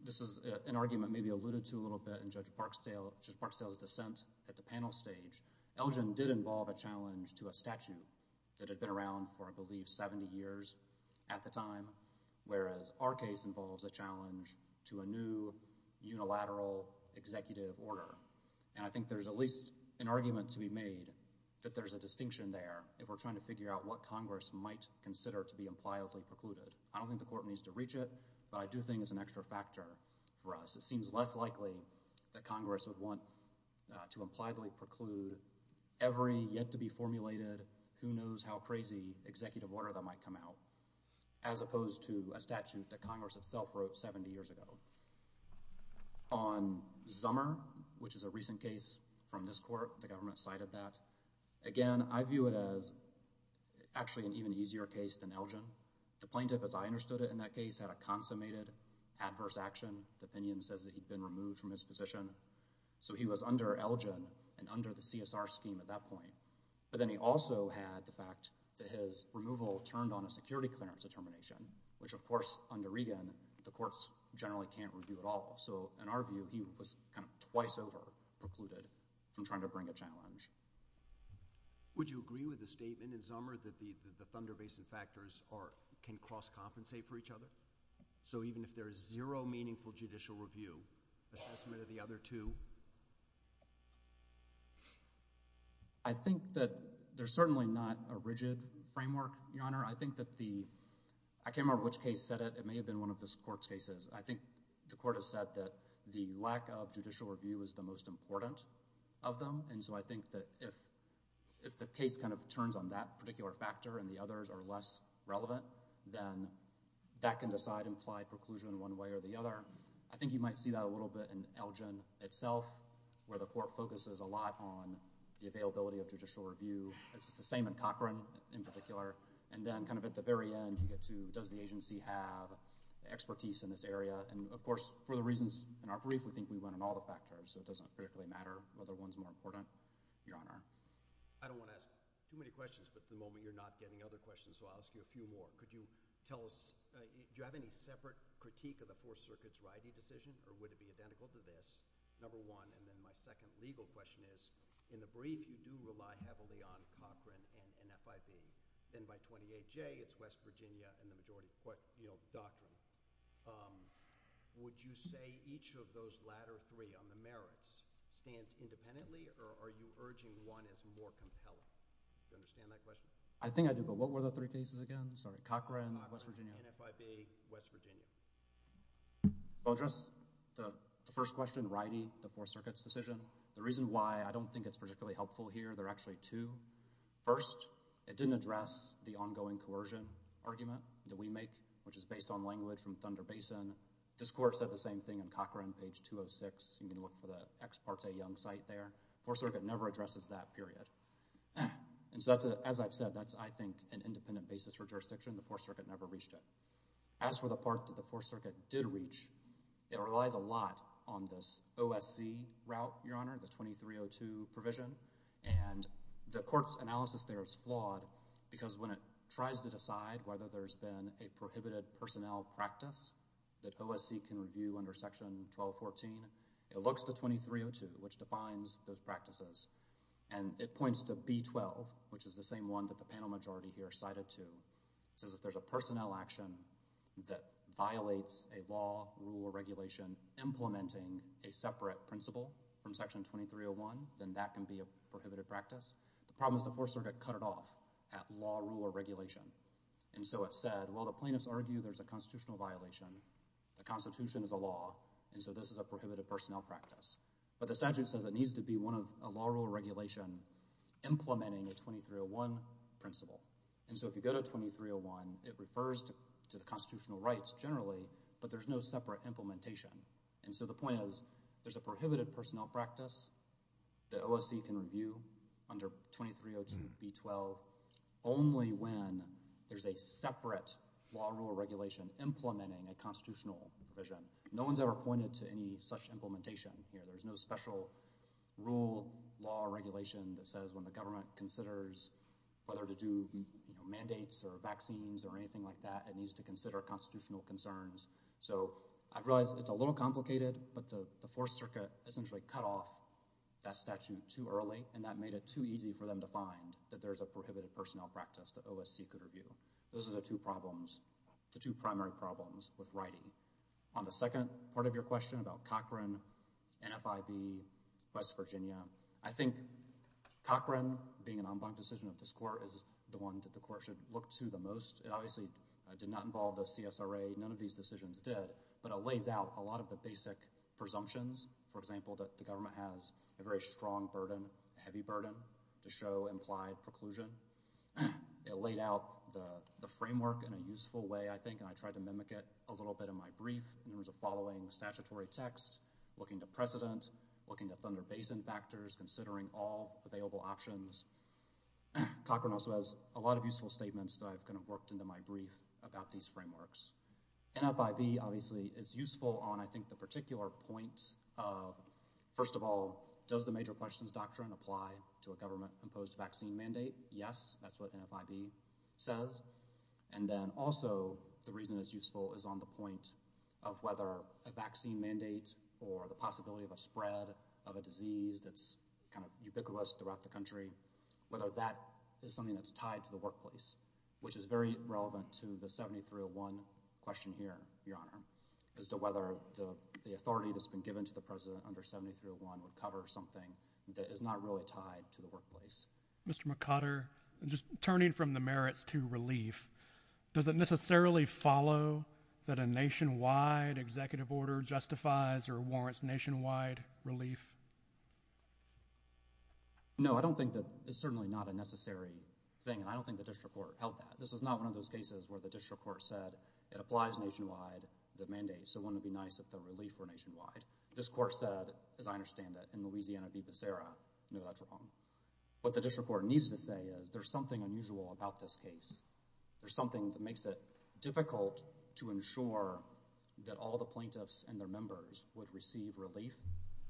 this is an argument maybe alluded to a little bit in Judge Parkstale's dissent at the panel stage. Elgin did involve a challenge to a statute that had been around for, I believe, 70 years at the time whereas our case involves a challenge to a new unilateral executive order. And I think there's at least an argument to be made that there's a distinction there if we're trying to figure out what Congress might consider to be impliedly precluded. I don't think the court needs to reach it, but I do think it's an extra factor for us. It seems less likely that Congress would want to impliedly preclude every yet-to-be-formulated, who-knows-how-crazy executive order that might come out as opposed to a statute that Congress itself wrote 70 years ago. On Zummer, which is a recent case from this court, the government cited that. Again, I view it as actually an even easier case than Elgin. The plaintiff, as I understood it in that case, had a consummated adverse action opinion says that he'd been removed from his position. So he was under Elgin and under the CSR scheme at that point. But then he also had the fact that his removal turned on a security clearance determination, which, of course, under Regan, the courts generally can't review at all. So in our view, he was kind of twice over precluded from trying to bring a case to the court. I think that there's certainly not a rigid framework, Your Honor. I think that the... I can't remember which case said it. It may have been one of this court's cases. I think the court has said that the lack of judicial review is the most important of them. And so I think that if the case is not reviewed, then it's not a rigid framework. If the case kind of turns on that particular factor and the others are less relevant, then that can decide implied preclusion one way or the other. I think you might see that a little bit in Elgin itself, where the court focuses a lot on the availability of judicial review. It's the same in Cochran, in particular. And then kind of at the very end, you get to does the agency have expertise in this area? And, of course, for the reasons in our brief, we think we went on all the factors. So it doesn't particularly matter whether one's more important. Your Honor. I don't want to ask too many questions, but at the moment you're not getting other questions, so I'll ask you a few more. Could you tell us... do you have any separate critique of the Fourth Circuit's RIVI decision, or would it be identical to this? Number one. And then my second legal question is, in the brief, you do rely heavily on Cochran and FIV. Then by 28J, it's West Virginia and the majority court doctrine. Would you say each of those latter three on the merits stands independently, or are you urging one as more compelling? Do you understand my question? I think I do, but what were the three cases again? Sorry. Cochran, West Virginia. And FIV, West Virginia. The first question, RIVI, the Fourth Circuit's decision, the reason why I don't think it's particularly helpful here, there are actually two. First, it didn't address the ongoing coercion argument that we make, which is based on language from Thunder Basin. This court said the same thing in Cochran, page 206. You can look for the Ex Parte Young site there. The Fourth Circuit never addresses that period. And so, as I've said, that's, I think, an independent basis for jurisdiction. The Fourth Circuit never reached it. As for the part that the Fourth Circuit did reach, it relies a lot on this OSC route, Your Honor, the 2302 provision. And the court's analysis there is flawed because when it tries to decide whether there's been a prohibited personnel practice that OSC can review under Section 1214, it looks to 2302, which defines those practices. And it points to B-12, which is the same one that the panel majority here cited to. It says if there's a personnel action that violates a law, rule, or regulation implementing a separate principle from Section 2301, then that can be a prohibited practice. The problem is the Fourth Circuit cut it off at law, rule, or regulation. And so it said, well, the plaintiffs argue there's a constitutional violation. The Constitution is a law. And so this is a prohibited personnel practice. But the statute says it needs to be a law, rule, or regulation implementing a 2301 principle. And so if you go to 2301, it refers to the constitutional rights generally, but there's no separate implementation. And so the point is, there's a prohibited personnel practice that OSC can review under 2302 B-12 only when there's a separate law, rule, or regulation implementing a constitutional provision. No one's ever pointed to any such implementation. There's no special rule, law, or regulation that says when the government considers whether to do mandates or vaccines or anything like that, it needs to consider constitutional concerns. So I realize it's a little complicated, but the Fourth Circuit essentially cut off that statute too early, and that made it too easy for them to find that there's a prohibited personnel practice that OSC could review. Those are the two problems, the two primary problems with writing. On the second part of your question about Cochran, NFIB, West Virginia, I think Cochran, being an en banc decision of this Court, is the one that the Court should look to the most. It obviously did not involve the CSRA. None of these decisions did, but it lays out a lot of the basic presumptions. For example, that the government has a very strong burden, a heavy burden to show implied preclusion. It laid out the framework in a useful way, I think, and I tried to mimic it a little bit in my brief in terms of following statutory text, looking at precedent, looking at Thunder Basin factors, considering all available options. Cochran also has a lot of useful statements that I've kind of worked into my brief about these frameworks. NFIB, obviously, is useful on, I think, the particular point of, first of all, does the major questions doctrine apply to a government-imposed vaccine mandate? Yes, that's what NFIB says, and then also the reason it's useful is on the point of whether a vaccine mandate or the possibility of a spread of a disease that's kind of ubiquitous throughout the country, whether that is something that's tied to the workplace, which is very relevant to the 7301 question here, Your Honor, as to whether the authority that's been given to the President under 7301 would cover something that is not really tied to the workplace. Mr. McOtter, just turning from the merits to relief, does it necessarily follow that a nationwide executive order justifies or warrants nationwide relief? No, I don't think that it's certainly not a necessary thing, and I don't think the district court held that. This is not one of those cases where the district court said it applies nationwide, the mandate, so it wouldn't be nice if the relief were nationwide. This court said, as I understand it, in Louisiana v. Becerra, no, that's wrong. What the district court needs to say is there's something unusual about this case. There's something that makes it difficult to ensure that all the plaintiffs and their members would receive relief,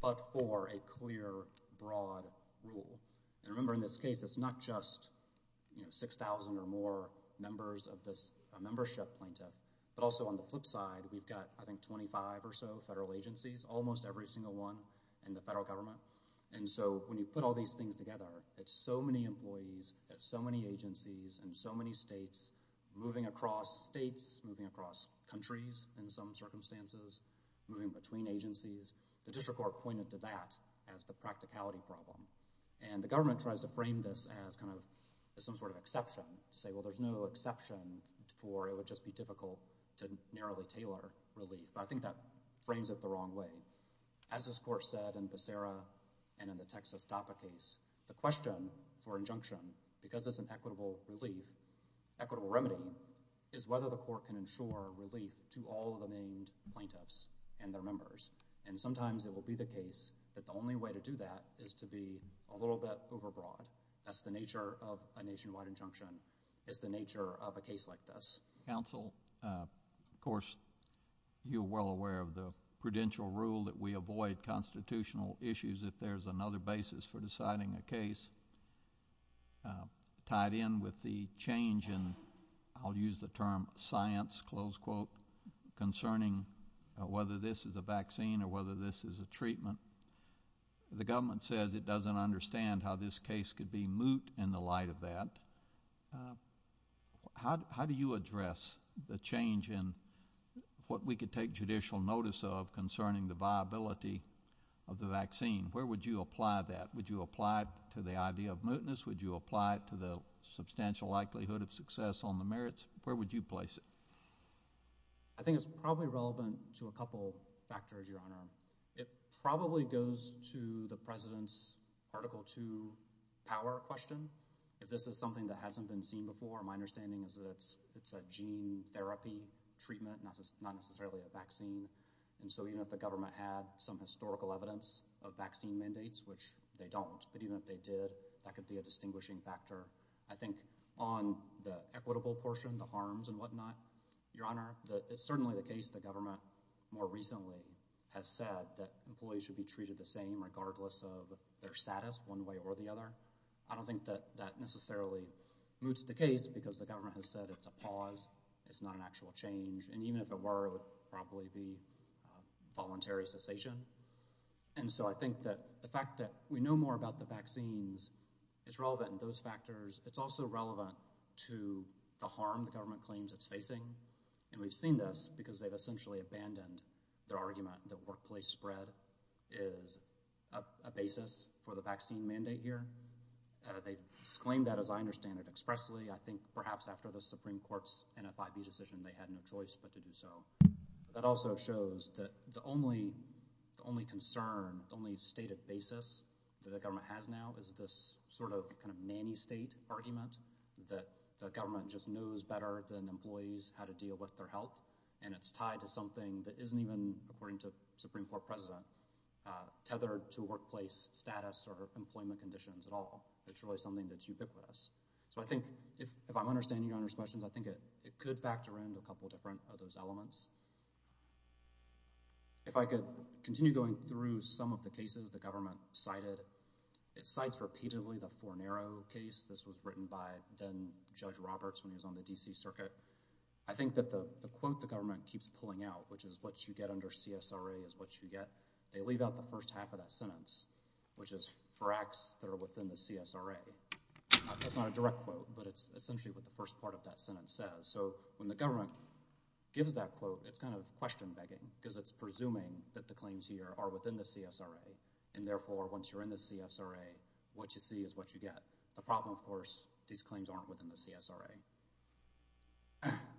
but for a clear, broad rule. And remember, in this case, it's not just 6,000 or more members of this membership plaintiff, but also on the flip side, we've got, I think, 25 or so federal agencies, almost every single one in the federal government, and so when you put all these things together, it's so many employees at so many agencies in so many states, moving across states, moving across countries in some circumstances, moving between agencies. The district court pointed to that as the practicality problem, and the government tries to frame this as some sort of exception, to say, well, there's no exception for, it would just be difficult to narrowly tailor relief. But I think that frames it the wrong way. As this court said in Becerra and in the Texas DAFA case, the question for injunction, because it's an equitable relief, equitable remedy, is whether the court can ensure relief to all the named plaintiffs and their members. And sometimes it will be the case that the only way to do that is to be a little bit overbroad. That's the nature of a nationwide injunction, is the nature of a case like this. Counsel, of course, you're well aware of the prudential rule that we avoid constitutional issues if there's another basis for deciding a case. Tied in with the change in, I'll use the term, science, concerning whether this is a vaccine or whether this is a treatment, the government says it doesn't understand how this case could be moot in the light of that. How do you address the change in what we could take judicial notice of concerning the viability of the vaccine? Where would you apply that? Would you apply it to the idea of mootness? Would you apply it to the substantial likelihood of success on the merits? Where would you place it? I think it's probably relevant to a couple factors, Your Honor. It probably goes to the President's Article 2 power question. If this is something that hasn't been seen before, my understanding is that it's a gene therapy treatment not necessarily a vaccine. So even if the government had some historical evidence of vaccine mandates, which they don't, but even if they did, that could be a distinguishing factor. I think on the equitable portion, the harms and whatnot, Your Honor, it's certainly the case the government more recently has said that employees should be treated the same regardless of their status one way or the other. I don't think that that necessarily moots the case because the government has said it's a pause it's not an actual change. And even if it were, it would probably be voluntary cessation. And so I think that the fact that we know more about the vaccines, it's relevant in those factors it's also relevant to the harm the government claims it's facing and we've seen this because they've essentially abandoned their argument that workplace spread is a basis for the vaccine mandate here. They've exclaimed that as I understand it expressly. I think perhaps after the Supreme Court's NFIB decision they had no choice but to do so. That also shows that the only concern, the only stated basis that the government has now is this sort of nanny state argument that the government just knows better than employees how to deal with their health and it's tied to something that isn't even, according to the Supreme Court President tethered to workplace status or employment conditions at all. It's really something that's ubiquitous. So I think, if I'm understanding Your Honor's questions, I think it could factor in a couple different other elements. If I could continue going through some of the cases the government cited, it cites repeatedly the Fornero case. This was written by then Judge Roberts when he was on the D.C. Circuit. I think that the quote the government keeps pulling out, which is what you get under CSRA is what you get, they leave out the first half of that sentence which is for acts that are within the CSRA. That's not a direct quote, but it's essentially what the first part of that sentence says. So when the government gives that quote, it's kind of question begging because it's presuming that the claims here are within the CSRA and therefore once you're in the CSRA what you see is what you get. The problem of course, these claims aren't within the CSRA.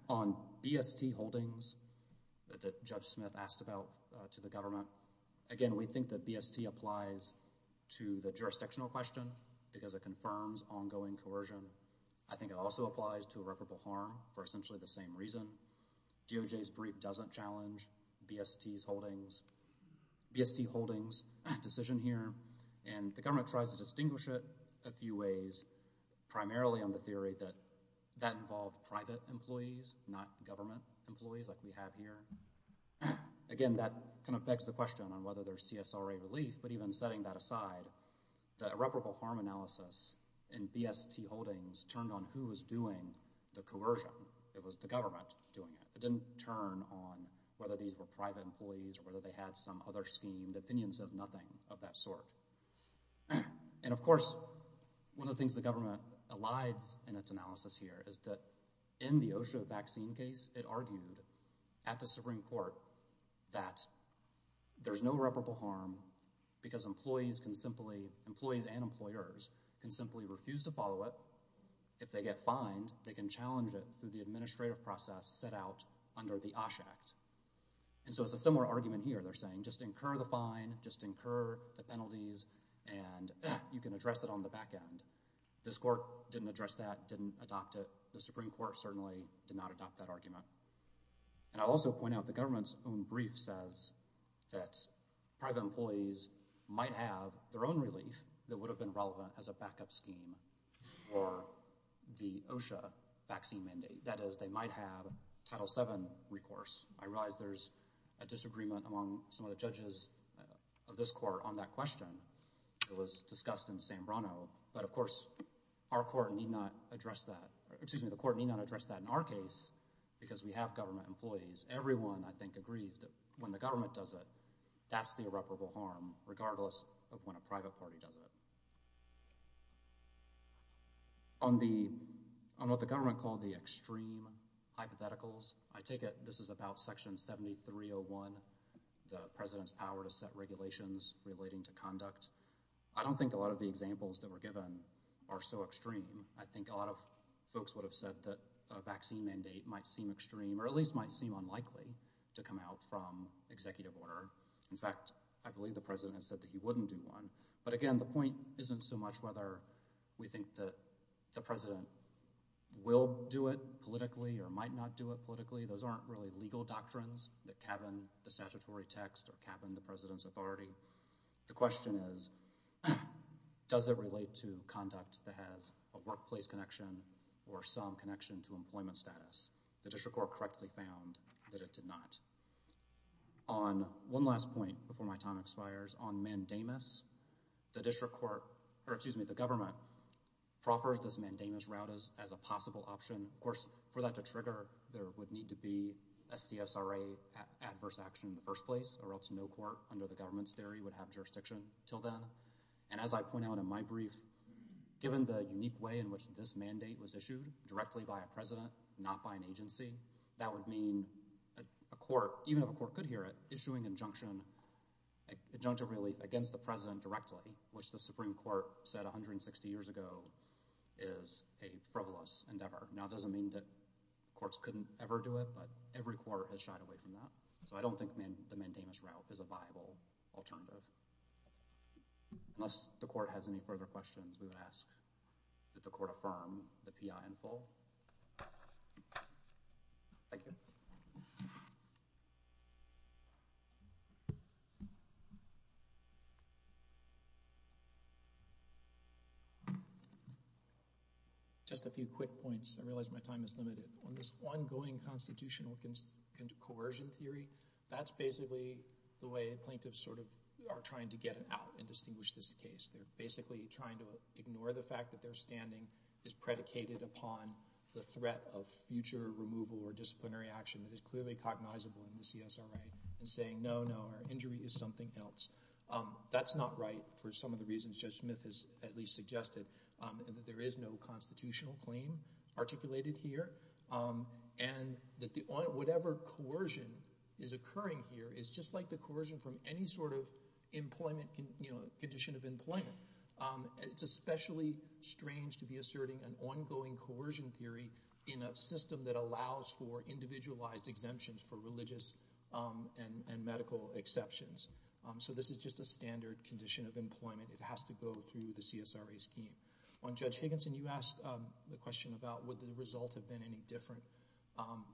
On BST holdings that Judge Smith asked about to the government, again, we think that BST applies to the jurisdictional question because it confirms ongoing coercion. I think it also applies to irreparable harm for essentially the same reason. DOJ's brief doesn't challenge BST's holdings. BST holdings decision here and the government tries to distinguish it a few ways primarily on the theory that that involved private employees not government employees like we have here. Again, that kind of begs the question on whether there's CSRA relief, but even setting that aside the irreparable harm analysis in BST holdings turned on who was doing the coercion. It was the government doing it. It didn't turn on whether these were private employees or whether they had some other scheme. The opinion says nothing of that sort. Of course, one of the things the government elides in its analysis here is that in the OSHA vaccine case it argued at the Supreme Court that there's no irreparable harm because employees can simply employees and employers can simply refuse to follow it. If they get fined, they can challenge it through the administrative process set out under the OSH Act. It's a similar argument here. They're saying just incur the fine, just incur the penalties and you can address it on the back end. This court didn't address that, didn't adopt it. The Supreme Court certainly did not adopt that argument. I'll also point out the government's own brief says that private employees might have their own relief that would have been relevant as a backup scheme for the OSHA vaccine mandate. That is, they might have Title VII recourse. I realize there's a disagreement among some of the judges of this court on that question. It was discussed in San Bruno, but of course our court need not address that. Excuse me, the court need not address that in our case because we have government employees. Everyone, I think, agrees that when the government does it, that's the irreparable harm regardless of when a private party does it. On what the government called the extreme hypotheticals, I take it this is about Section 7301, the President's power to set regulations relating to conduct. I don't think a lot of the examples that were given are so extreme. I think a lot of folks would have said that a vaccine mandate might seem extreme, or at least might seem unlikely to come out from executive order. In fact, I believe the President has said that he wouldn't do one. But again, the point isn't so much whether we think that the President will do it politically. Those aren't really legal doctrines that cabin the statutory text or cabin the President's authority. The question is does it relate to conduct that has a workplace connection or some connection to employment status? The district court correctly found that it did not. On one last point before my time expires, on mandamus, the government proffers this mandamus route as a possible option. Of course, for that to trigger, there would need to be a CSRA adverse action in the first place, or else no court under the government's theory would have jurisdiction until then. And as I point out in my brief, given the unique way in which this mandate was issued, directly by a President, not by an agency, that would mean a court, even if a court could hear it, issuing injunction against the President directly, which the Supreme Court said 160 years ago is a frivolous endeavor. Now it doesn't mean that courts couldn't ever do it, but every court has shied away from that. So I don't think the mandamus route is a viable alternative. Unless the court has any further questions, we will ask that the court affirm the PI in full. Thank you. Just a few quick points. I realize my time is limited. On this ongoing constitutional coercion theory, that's basically the way plaintiffs are trying to get out and distinguish this case. They're basically trying to ignore the fact that their standing is predicated upon the threat of future removal or disciplinary action that is clearly cognizable in the CSRA, and saying, no, no, our injury is something else. That's not right for some of the reasons that Judge Smith has at least suggested, and that there is no constitutional claim articulated here, and that whatever coercion is occurring here is just like the coercion from any sort of condition of employment. It's especially strange to be asserting an ongoing coercion theory in a system that allows for individualized exemptions for religious and medical exceptions. So this is just a way to go through the CSRA scheme. On Judge Higginson, you asked the question about would the result have been any different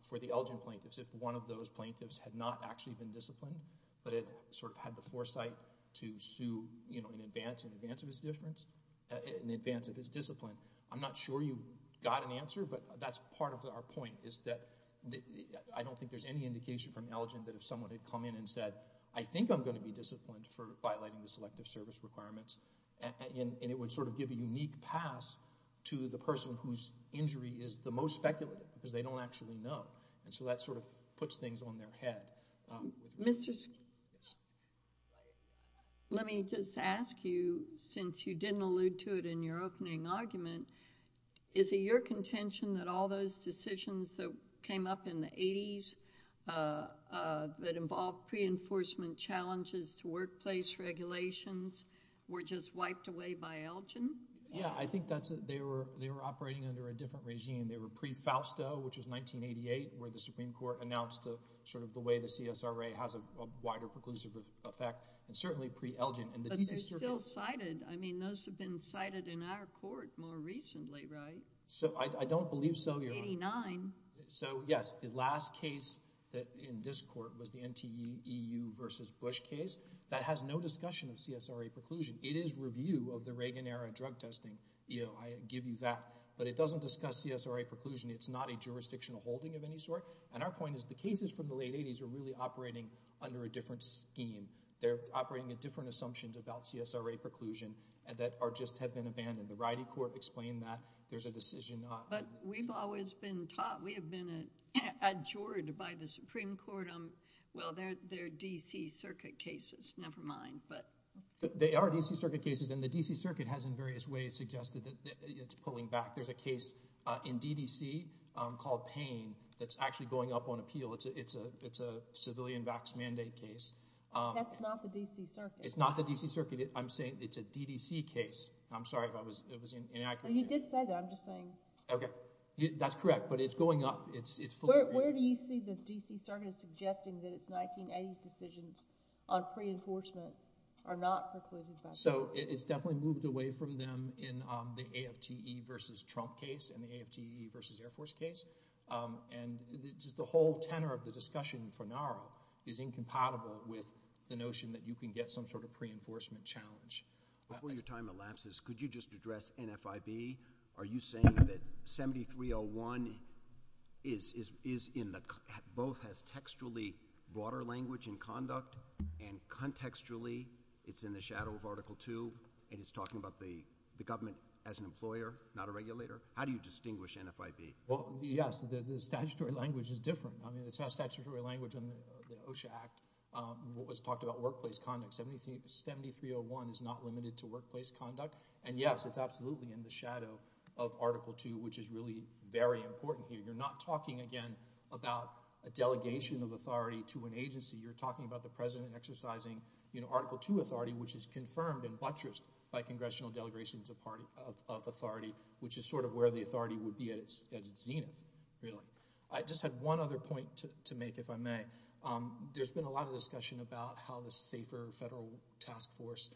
for the Elgin plaintiffs if one of those plaintiffs had not actually been disciplined, but had sort of had the foresight to sue in advance of his difference, in advance of his discipline. I'm not sure you got an answer, but that's part of our point, is that I don't think there's any indication from Elgin that if someone had come in and said, I think I'm going to be disciplined for and it would sort of give a unique pass to the person whose injury is the most speculative, because they don't actually know. So that sort of puts things on their head. Let me just ask you, since you didn't allude to it in your opening argument, is it your contention that all those decisions that came up in the 80s that involved pre-enforcement challenges to workplace regulations were just wiped away by Elgin? Yeah, I think they were operating under a different regime. They were pre-Fausto which was 1988 where the Supreme Court announced sort of the way the CSRA has a wider preclusive effect, and certainly pre-Elgin. But they're still cited. I mean, those have been cited in our court more recently, right? I don't believe so, Your Honor. 1989. Yes, the last case in this court was the NTEEU versus Bush case. That has no discussion of CSRA preclusion. It is review of the Reagan-era drug testing. I give you that. But it doesn't discuss CSRA preclusion. It's not a jurisdictional holding of any sort. And our point is the cases from the late 80s are really operating under a different scheme. They're operating at different assumptions about CSRA preclusion that just have been abandoned. The Rydie Court explained that. There's a decision not. But we've always been taught, we have been adjured by the Supreme Court on... well, they're D.C. Circuit cases. Never mind. They are D.C. Circuit cases, and the D.C. Circuit has in various ways suggested that it's pulling back. There's a case in D.D.C. called Payne that's actually going up on appeal. It's a civilian vax mandate case. That's not the D.C. Circuit. It's not the D.C. Circuit. I'm saying it's a D.D.C. case. I'm sorry if I was inaccurate. You did say that. I'm just saying. Okay. That's correct. But it's going up. Where do you see the D.C. Circuit suggesting that it's 1980s decisions on pre-enforcement are not precluded by... It's definitely moved away from them in the AFTE versus Trump case and the AFTE versus Air Force case. The whole tenor of the discussion for NARA is incompatible with the notion that you can get some sort of pre-enforcement challenge. Before your time elapses, could you just address NFIB? Are you saying that 7301 is in the... both has textually broader language in conduct and contextually it's in the shadow of Article II and it's talking about the government as an employer, not a regulator? How do you distinguish NFIB? Yes. The statutory language is different. It's not statutory language on the OSHA Act. What was talked about, workplace conduct. 7301 is not limited to workplace conduct. And yes, it's absolutely in the federal task force and the federal government. And I think that's really very important here. You're not talking, again, about a delegation of authority to an agency. You're talking about the president exercising Article II authority, which is confirmed and buttressed by congressional delegations of authority, which is sort of where the authority would be at its zenith, really. I just had one other point to make, if I may. There's been a lot of discussion about how the SAFER federal task force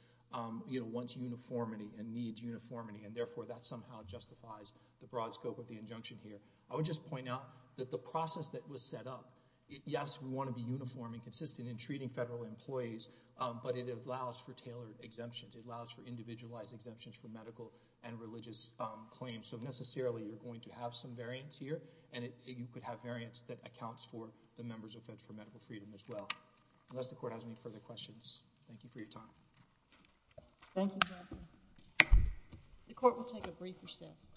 wants uniformity and needs uniformity and therefore that somehow justifies the broad scope of the injunction here. I would just point out that the process that was set up, yes, we want to be uniform and consistent in treating federal employees, but it allows for tailored exemptions. It allows for individualized exemptions for medical and religious claims. So necessarily you're going to have some variance here and you could have variance that accounts for the members of Feds for Medical Freedom as well. Unless the court has any further questions, thank you for your time. Thank you, counsel. The court will take a brief recess.